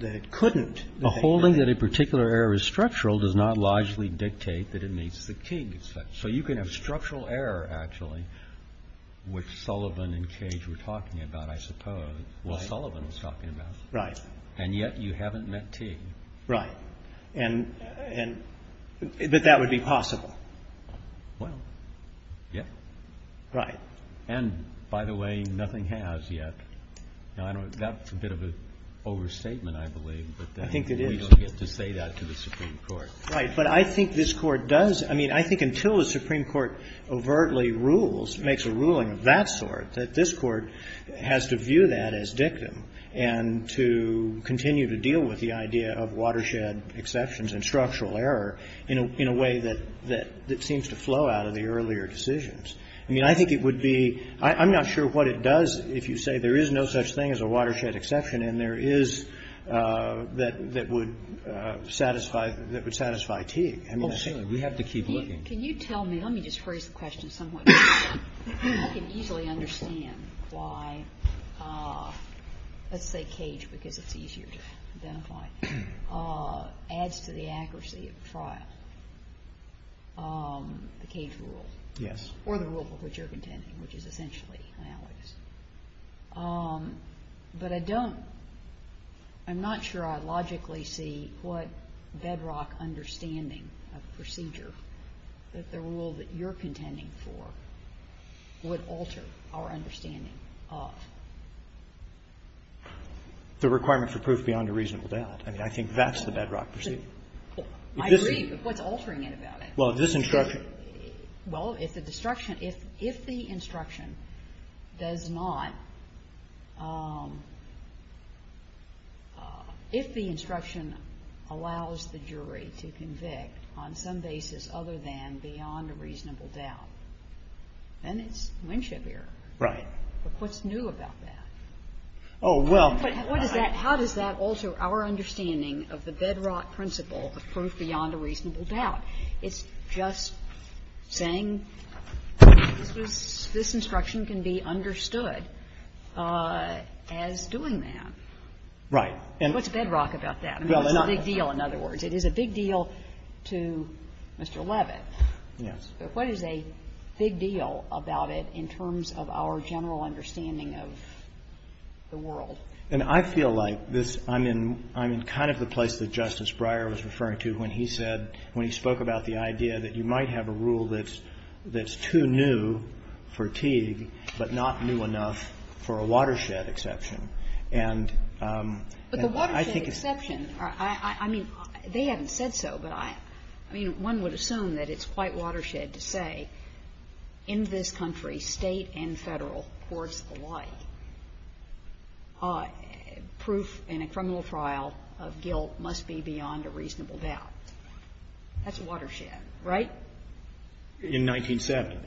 that it couldn't. A holding that a particular error is structural does not largely dictate that it meets the T. So you can have structural error, actually, which Sullivan and Cage were talking about, I suppose. Well, Sullivan was talking about. Right. And yet you haven't met T. Right. And, but that would be possible. Well, yeah. Right. And, by the way, nothing has yet. Now, that's a bit of an overstatement, I believe. I think it is. But we don't get to say that to the Supreme Court. Right. But I think this Court does, I mean, I think until the Supreme Court overtly rules, makes a ruling of that sort, that this Court has to view that as dictum and to continue to deal with the idea of watershed exceptions and structural error in a way that seems to flow out of the earlier decisions. I mean, I think it would be, I'm not sure what it does if you say there is no such thing as a watershed exception and there is that would satisfy Teague. I mean, I think. Oh, certainly. We have to keep looking. Can you tell me, let me just phrase the question somewhat differently. I can easily understand why, let's say Cage, because it's easier to identify, adds to the accuracy of trial, the Cage rule. Yes. Or the rule of which you're contending, which is essentially analogous. But I don't, I'm not sure I logically see what bedrock understanding of procedure that the rule that you're contending for would alter our understanding of. The requirement for proof beyond a reasonable doubt. I mean, I think that's the bedrock procedure. I agree, but what's altering it about it? Well, this instruction. Well, if the instruction, if the instruction does not, if the instruction allows the jury to convict on some basis other than beyond a reasonable doubt, then it's Winship error. Right. But what's new about that? Oh, well. How does that alter our understanding of the bedrock principle of proof beyond a reasonable doubt? It's just saying this instruction can be understood as doing that. Right. What's bedrock about that? I mean, it's a big deal, in other words. It is a big deal to Mr. Levitt. Yes. But what is a big deal about it in terms of our general understanding of the world? And I feel like this, I'm in kind of the place that Justice Breyer was referring to when he said, when he spoke about the idea that you might have a rule that's too new for Teague, but not new enough for a watershed exception. But the watershed exception, I mean, they haven't said so, but I mean, one would assume that it's quite watershed to say in this country, State and Federal courts alike, proof in a criminal trial of guilt must be beyond a reasonable doubt. That's watershed, right? In 1907.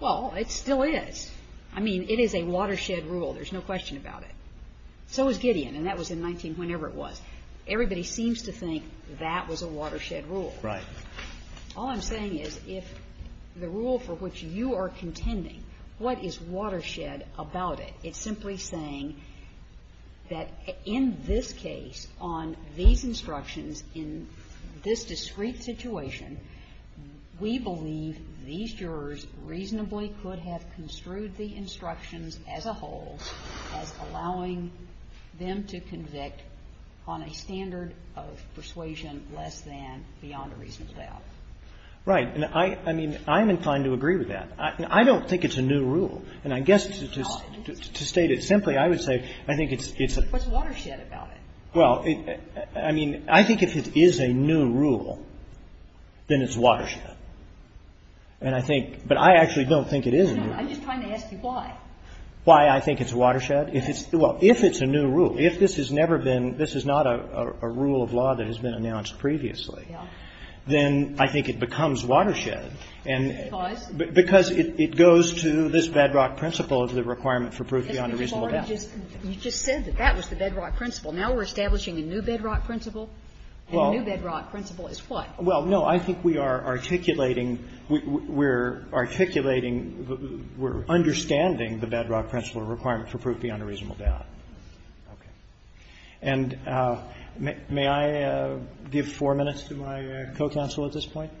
Well, it still is. I mean, it is a watershed rule. There's no question about it. So is Gideon, and that was in 19 whenever it was. Everybody seems to think that was a watershed rule. Right. All I'm saying is if the rule for which you are contending, what is watershed about it? It's simply saying that in this case, on these instructions, in this discrete situation, we believe these jurors reasonably could have construed the instructions as a whole as allowing them to convict on a standard of persuasion less than beyond a reasonable doubt. Right. And I mean, I'm inclined to agree with that. I don't think it's a new rule. And I guess to state it simply, I would say I think it's a What's watershed about it? Well, I mean, I think if it is a new rule, then it's watershed. And I think, but I actually don't think it is a new rule. I'm just trying to ask you why. Why I think it's watershed. If it's, well, if it's a new rule, if this has never been, this is not a rule of law that has been announced previously, then I think it becomes watershed. Because? Because it goes to this bedrock principle of the requirement for proof beyond a reasonable doubt. You just said that that was the bedrock principle. Now we're establishing a new bedrock principle. Well. And the new bedrock principle is what? Well, no. I think we are articulating, we're articulating, we're understanding the bedrock principle requirement for proof beyond a reasonable doubt. Okay. And may I give four minutes to my co-counsel at this point?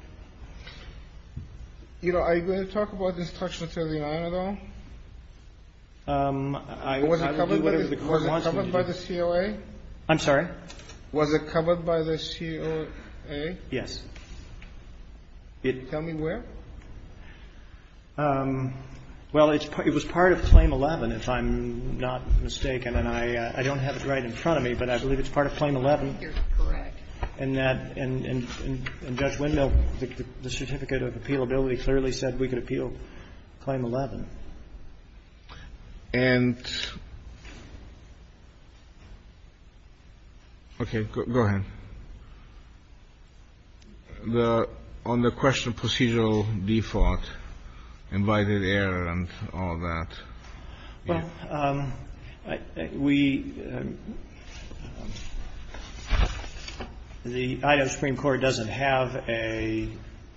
You know, are you going to talk about the instructions of the honor, though? Was it covered by the COA? I'm sorry? Was it covered by the COA? Yes. Tell me where? Well, it was part of Claim 11, if I'm not mistaken. And I don't have it right in front of me, but I believe it's part of Claim 11. You're correct. And Judge Wendell, the certificate of appealability clearly said we could appeal Claim 11. And okay. Go ahead. On the question of procedural default, invited error and all that. Well, we, the Idaho Supreme Court doesn't have an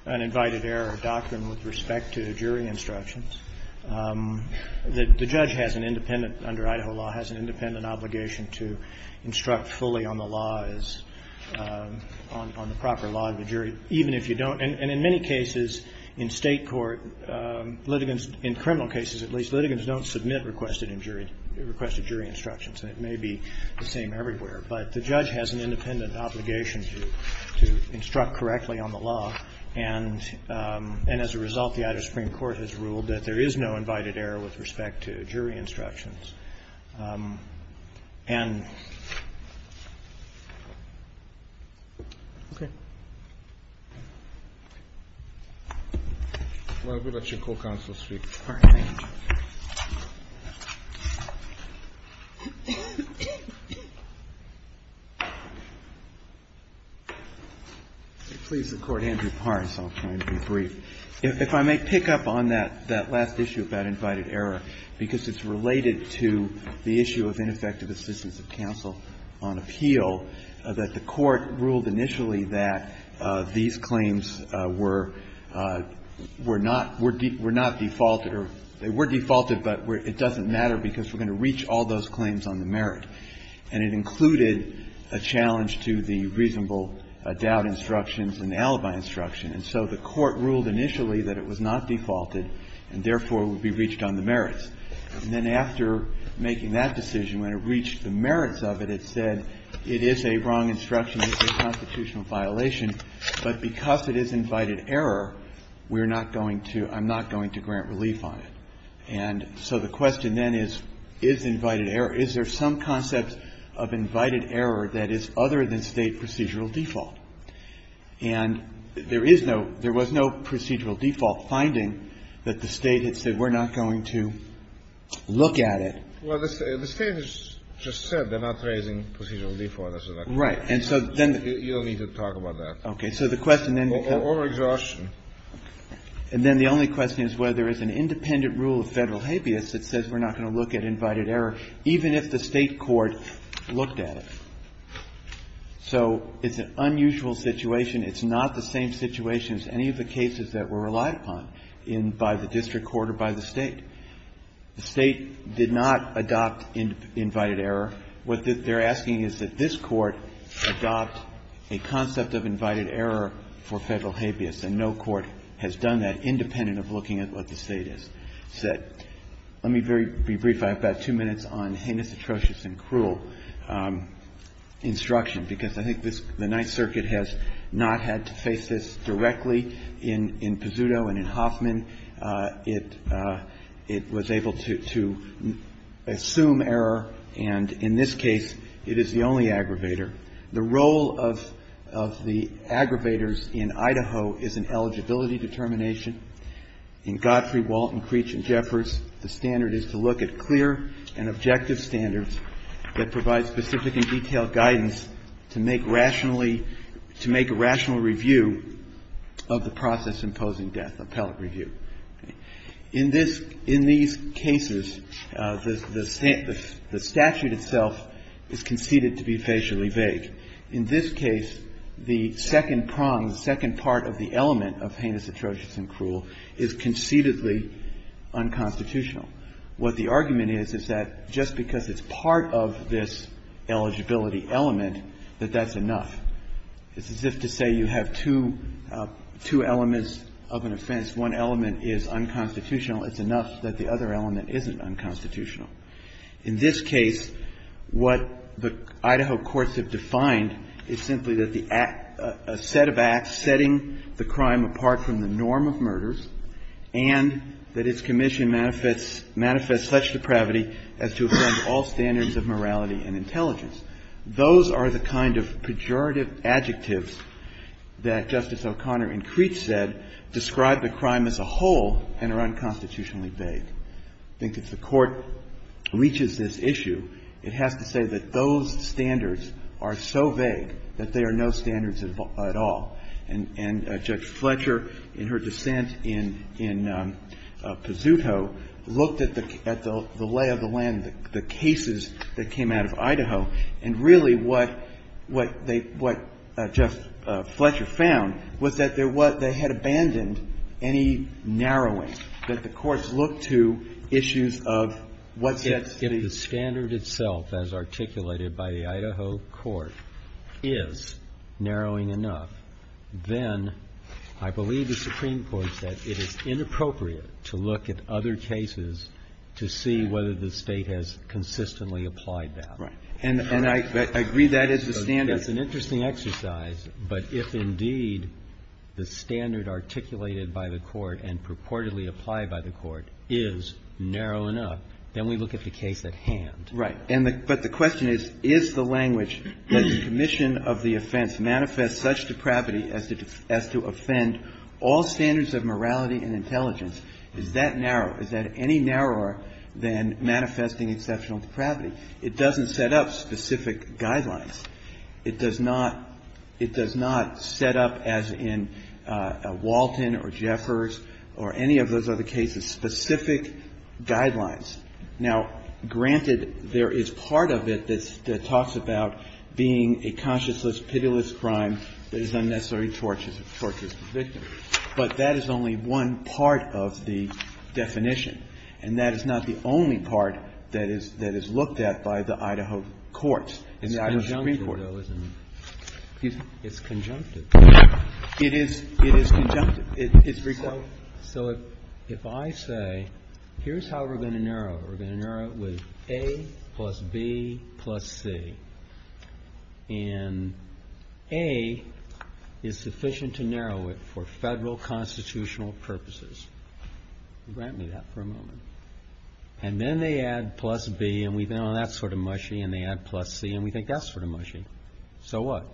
invited error doctrine with respect to jury instructions. The judge has an independent, under Idaho law, has an independent obligation to instruct fully on the law as, on the proper law of the jury, even if you don't. And in many cases in state court, litigants, in criminal cases at least, litigants don't submit requested jury instructions. And it may be the same everywhere. But the judge has an independent obligation to instruct correctly on the law. And as a result, the Idaho Supreme Court has ruled that there is no invited error with respect to jury instructions. Well, we'll let your co-counsel speak. All right. Thank you. Please, the Court. Andrew Pars, I'll try and be brief. If I may pick up on that, that last issue about invited error, because it's related to the issue of ineffective assistance of counsel on appeal, that the Court ruled initially that these claims were not, were not defaulted, or they were defaulted, but it doesn't matter because we're going to reach all those claims on the merit. And it included a challenge to the reasonable doubt instructions and the alibi instruction. And so the Court ruled initially that it was not defaulted and, therefore, would be reached on the merits. And then after making that decision, when it reached the merits of it, it said it is a wrong instruction, it's a constitutional violation, but because it is invited error, we're not going to, I'm not going to grant relief on it. And so the question then is, is invited error, is there some concept of invited error that is other than State procedural default? And there is no, there was no procedural default finding that the State had said, we're not going to look at it. Well, the State has just said they're not raising procedural default. Right. And so then the question then becomes. Or exhaustion. And then the only question is whether there is an independent rule of Federal habeas that says we're not going to look at invited error, even if the State court looked at it. So it's an unusual situation. It's not the same situation as any of the cases that were relied upon in, by the district court or by the State. The State did not adopt invited error. What they're asking is that this Court adopt a concept of invited error for Federal habeas, and no court has done that independent of looking at what the State has said. Let me be brief. I have about two minutes on heinous, atrocious and cruel instruction, because I think this, the Ninth Circuit has not had to face this directly in Pizzuto and in Hoffman. It was able to assume error. And in this case, it is the only aggravator. The role of the aggravators in Idaho is an eligibility determination. In Godfrey, Walton, Creech and Jeffers, the standard is to look at clear and objective standards that provide specific and detailed guidance to make rationally to make a rational review of the process imposing death, appellate review. In this, in these cases, the statute itself is conceded to be facially vague. In this case, the second prong, the second part of the element of heinous, atrocious and cruel is concededly unconstitutional. What the argument is, is that just because it's part of this eligibility element that that's enough. It's as if to say you have two elements of an offense. One element is unconstitutional. It's enough that the other element isn't unconstitutional. In this case, what the Idaho courts have defined is simply that the act, a set of acts setting the crime apart from the norm of murders and that its commission manifests such depravity as to offend all standards of morality and intelligence. Those are the kind of pejorative adjectives that Justice O'Connor in Creech said describe the crime as a whole and are unconstitutionally vague. I think if the Court reaches this issue, it has to say that those standards are so vague that they are no standards at all. And Judge Fletcher, in her dissent in Pazuto, looked at the lay of the land, the cases that came out of Idaho, and really what they, what Justice Fletcher found was that there was, they had abandoned any narrowing, that the courts looked to issues of what sets the standard itself as articulated by the Idaho court is narrowing enough, then I believe the Supreme Court said it is inappropriate to look at other cases to see whether the State has consistently applied that. And I agree that is the standard. It's an interesting exercise, but if indeed the standard articulated by the court and purportedly applied by the court is narrow enough, then we look at the case at hand. Right. But the question is, is the language that the commission of the offense manifests such depravity as to offend all standards of morality and intelligence, is that narrow? Is that any narrower than manifesting exceptional depravity? It doesn't set up specific guidelines. It does not, it does not set up as in Walton or Jeffers or any of those other cases specific guidelines. Now, granted, there is part of it that talks about being a conscienceless, pitiless crime that is unnecessary torture for the victim. But that is only one part of the definition, and that is not the only part that is looked at by the Idaho courts and the Idaho Supreme Court. It's conjunctive, though, isn't it? Excuse me? It's conjunctive. It is conjunctive. So if I say, here's how we're going to narrow it. We're going to narrow it with A plus B plus C. And A is sufficient to narrow it for Federal constitutional purposes. Grant me that for a moment. And then they add plus B, and we think, oh, that's sort of mushy, and they add plus C, and we think that's sort of mushy. So what?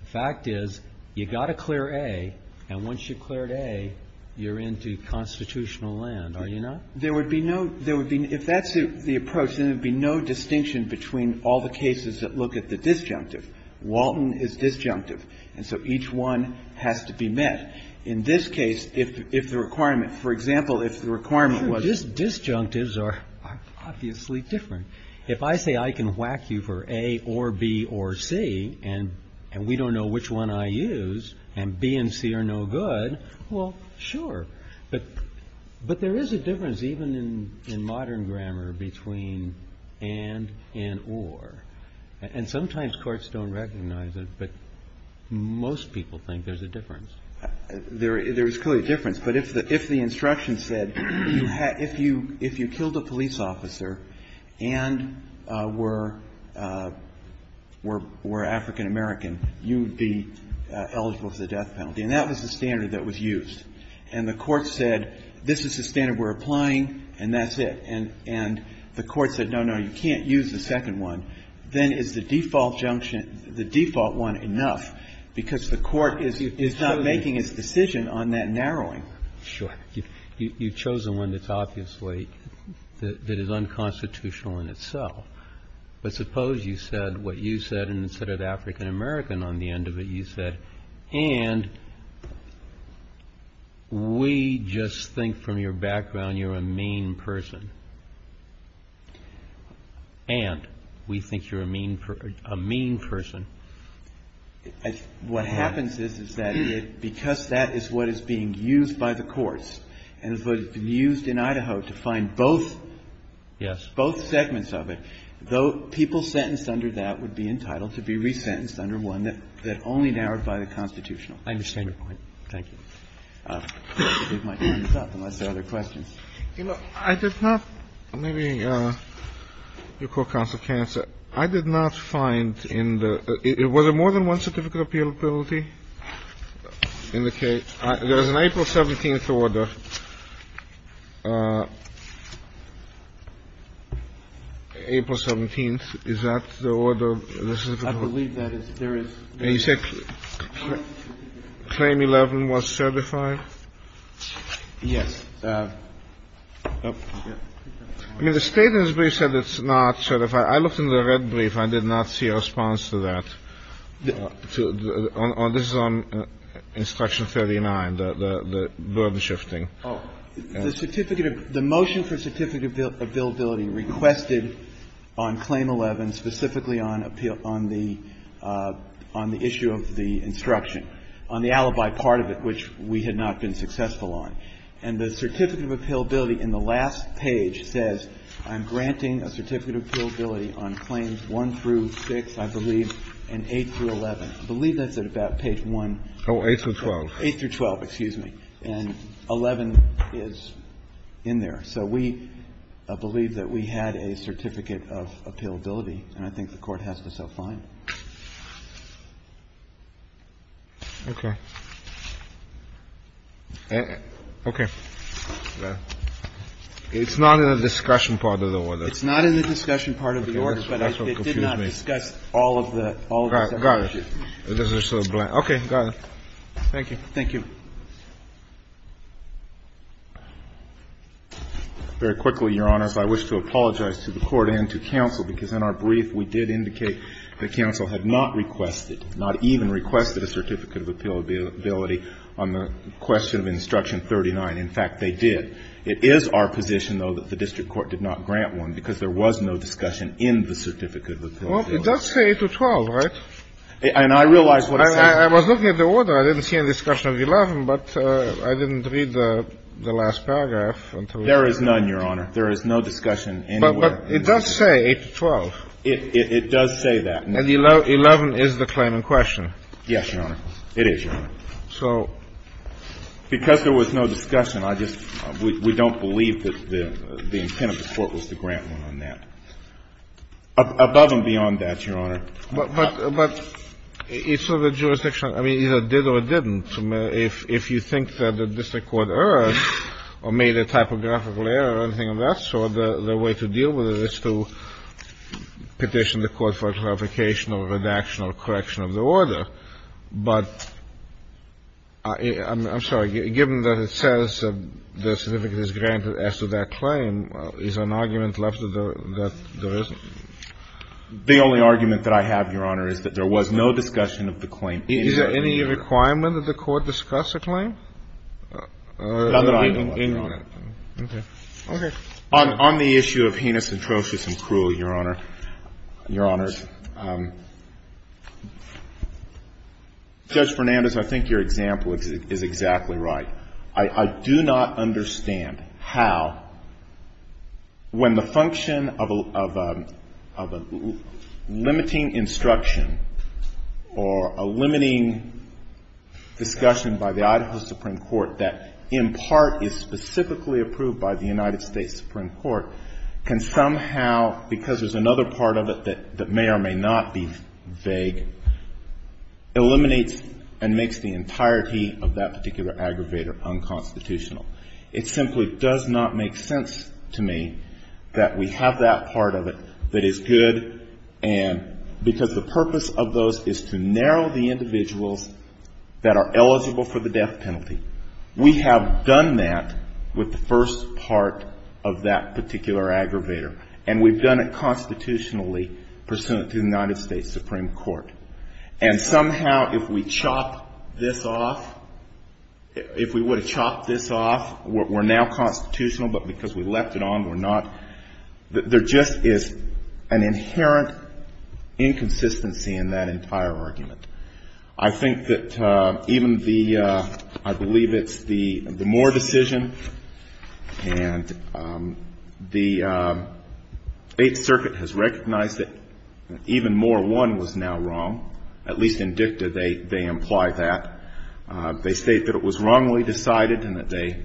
The fact is, you've got to clear A, and once you've cleared A, you're into constitutional land, are you not? There would be no – there would be – if that's the approach, then there would be no distinction between all the cases that look at the disjunctive. Walton is disjunctive, and so each one has to be met. In this case, if the requirement – for example, if the requirement was – Sure, disjunctives are obviously different. If I say I can whack you for A or B or C, and we don't know which one I use, and B and C are no good, well, sure. But there is a difference, even in modern grammar, between and and or. And sometimes courts don't recognize it, but most people think there's a difference. There is clearly a difference. But if the instruction said you had – if you killed a police officer and were African American, you would be eligible for the death penalty. And that was the standard that was used. And the court said, this is the standard we're applying, and that's it. And the court said, no, no, you can't use the second one. Then is the default junction – the default one enough? Because the court is not making its decision on that narrowing. Sure. You've chosen one that's obviously – that is unconstitutional in itself. But suppose you said what you said, and instead of African American on the end of it, you said, and we just think from your background you're a mean person. And we think you're a mean person. What happens is, is that because that is what is being used by the courts, and it's what has been used in Idaho to find both – Yes. But it's not just about the fact that it was used in Idaho to find both African I just want to make that clear. The people sentenced under that would be entitled to be resentenced under one that only narrowed by the constitutional. I understand your point. Thank you. I did not. Maybe you could cancel cancer. I did not find in the it was a more than one certificate of appeal ability in the case. There was an April 17th order. April 17th. Is that the order? I believe that is. You said Claim 11 was certified? Yes. I mean, the Statements Brief said it's not certified. I looked in the red brief. I did not see a response to that. This is on Instruction 39, the burden shifting. The certificate of the motion for certificate of billability requested on Claim 11, specifically on the issue of the instruction, on the alibi part of it, which we had not been successful on. And the certificate of appealability in the last page says I'm granting a certificate of appealability on Claims 1 through 6, I believe, and 8 through 11. I believe that's at about page 1. Oh, 8 through 12. 8 through 12, excuse me. And 11 is in there. So we believe that we had a certificate of appealability, and I think the Court has to self-fine it. Okay. Okay. It's not in the discussion part of the order. It's not in the discussion part of the order, but it did not discuss all of the other issues. Okay. Got it. Thank you. Thank you. Very quickly, Your Honors, I wish to apologize to the Court and to counsel, because in our brief we did indicate that counsel had not requested, not even requested, a certificate of appealability on the question of Instruction 39. In fact, they did. It is our position, though, that the district court did not grant one because there was no discussion in the certificate of appealability. Well, it does say 8 through 12, right? And I realize what it says. I was looking at the order. I didn't see any discussion of 11. But I didn't read the last paragraph. There is none, Your Honor. There is no discussion anywhere. But it does say 8 through 12. It does say that. And 11 is the claim in question. Yes, Your Honor. It is, Your Honor. So ---- Because there was no discussion, I just ---- we don't believe that the intent of the Court was to grant one on that. Above and beyond that, Your Honor. But it's sort of jurisdictional. I mean, either it did or it didn't. If you think that the district court erred or made a typographical error or anything of that sort, the way to deal with it is to petition the Court for clarification or redaction or correction of the order. But I'm sorry. Given that it says the certificate is granted as to that claim, is there an argument left that there isn't? The only argument that I have, Your Honor, is that there was no discussion of the claim. Is there any requirement that the Court discuss a claim? Not that I know of, Your Honor. Okay. Okay. On the issue of heinous, atrocious and cruel, Your Honor, Your Honors, Judge Fernandez, I think your example is exactly right. I do not understand how, when the function of a limiting instruction or a limiting discussion by the Idaho Supreme Court that, in part, is specifically approved by the United States Supreme Court, can somehow, because there's another part of it that may or may not be vague, eliminates and makes the entirety of that particular aggravator unconstitutional. It simply does not make sense to me that we have that part of it that is good and because the purpose of those is to narrow the individuals that are eligible for the death penalty. We have done that with the first part of that particular aggravator. And we've done it constitutionally pursuant to the United States Supreme Court. And somehow, if we chop this off, if we would have chopped this off, we're now constitutional, but because we left it on, we're not, there just is an inherent inconsistency in that entire argument. I think that even the, I believe it's the Moore decision, and the Eighth Circuit has at least in dicta, they imply that. They state that it was wrongly decided and that they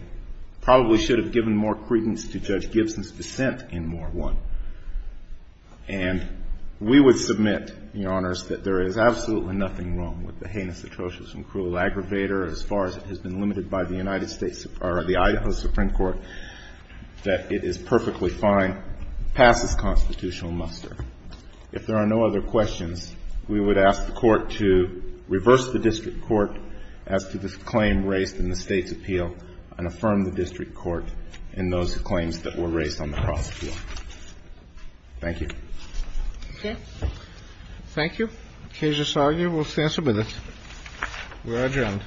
probably should have given more credence to Judge Gibson's dissent in Moore 1. And we would submit, Your Honors, that there is absolutely nothing wrong with the heinous atrocious and cruel aggravator as far as it has been limited by the United States, or the Idaho Supreme Court, that it is perfectly fine past this constitutional muster. If there are no other questions, we would ask the Court to reverse the District Court as to this claim raised in the State's appeal, and affirm the District Court in those claims that were raised on the prosecutor. Thank you. Okay. Thank you. Kezia Sargi, we'll stand for a minute. We're adjourned.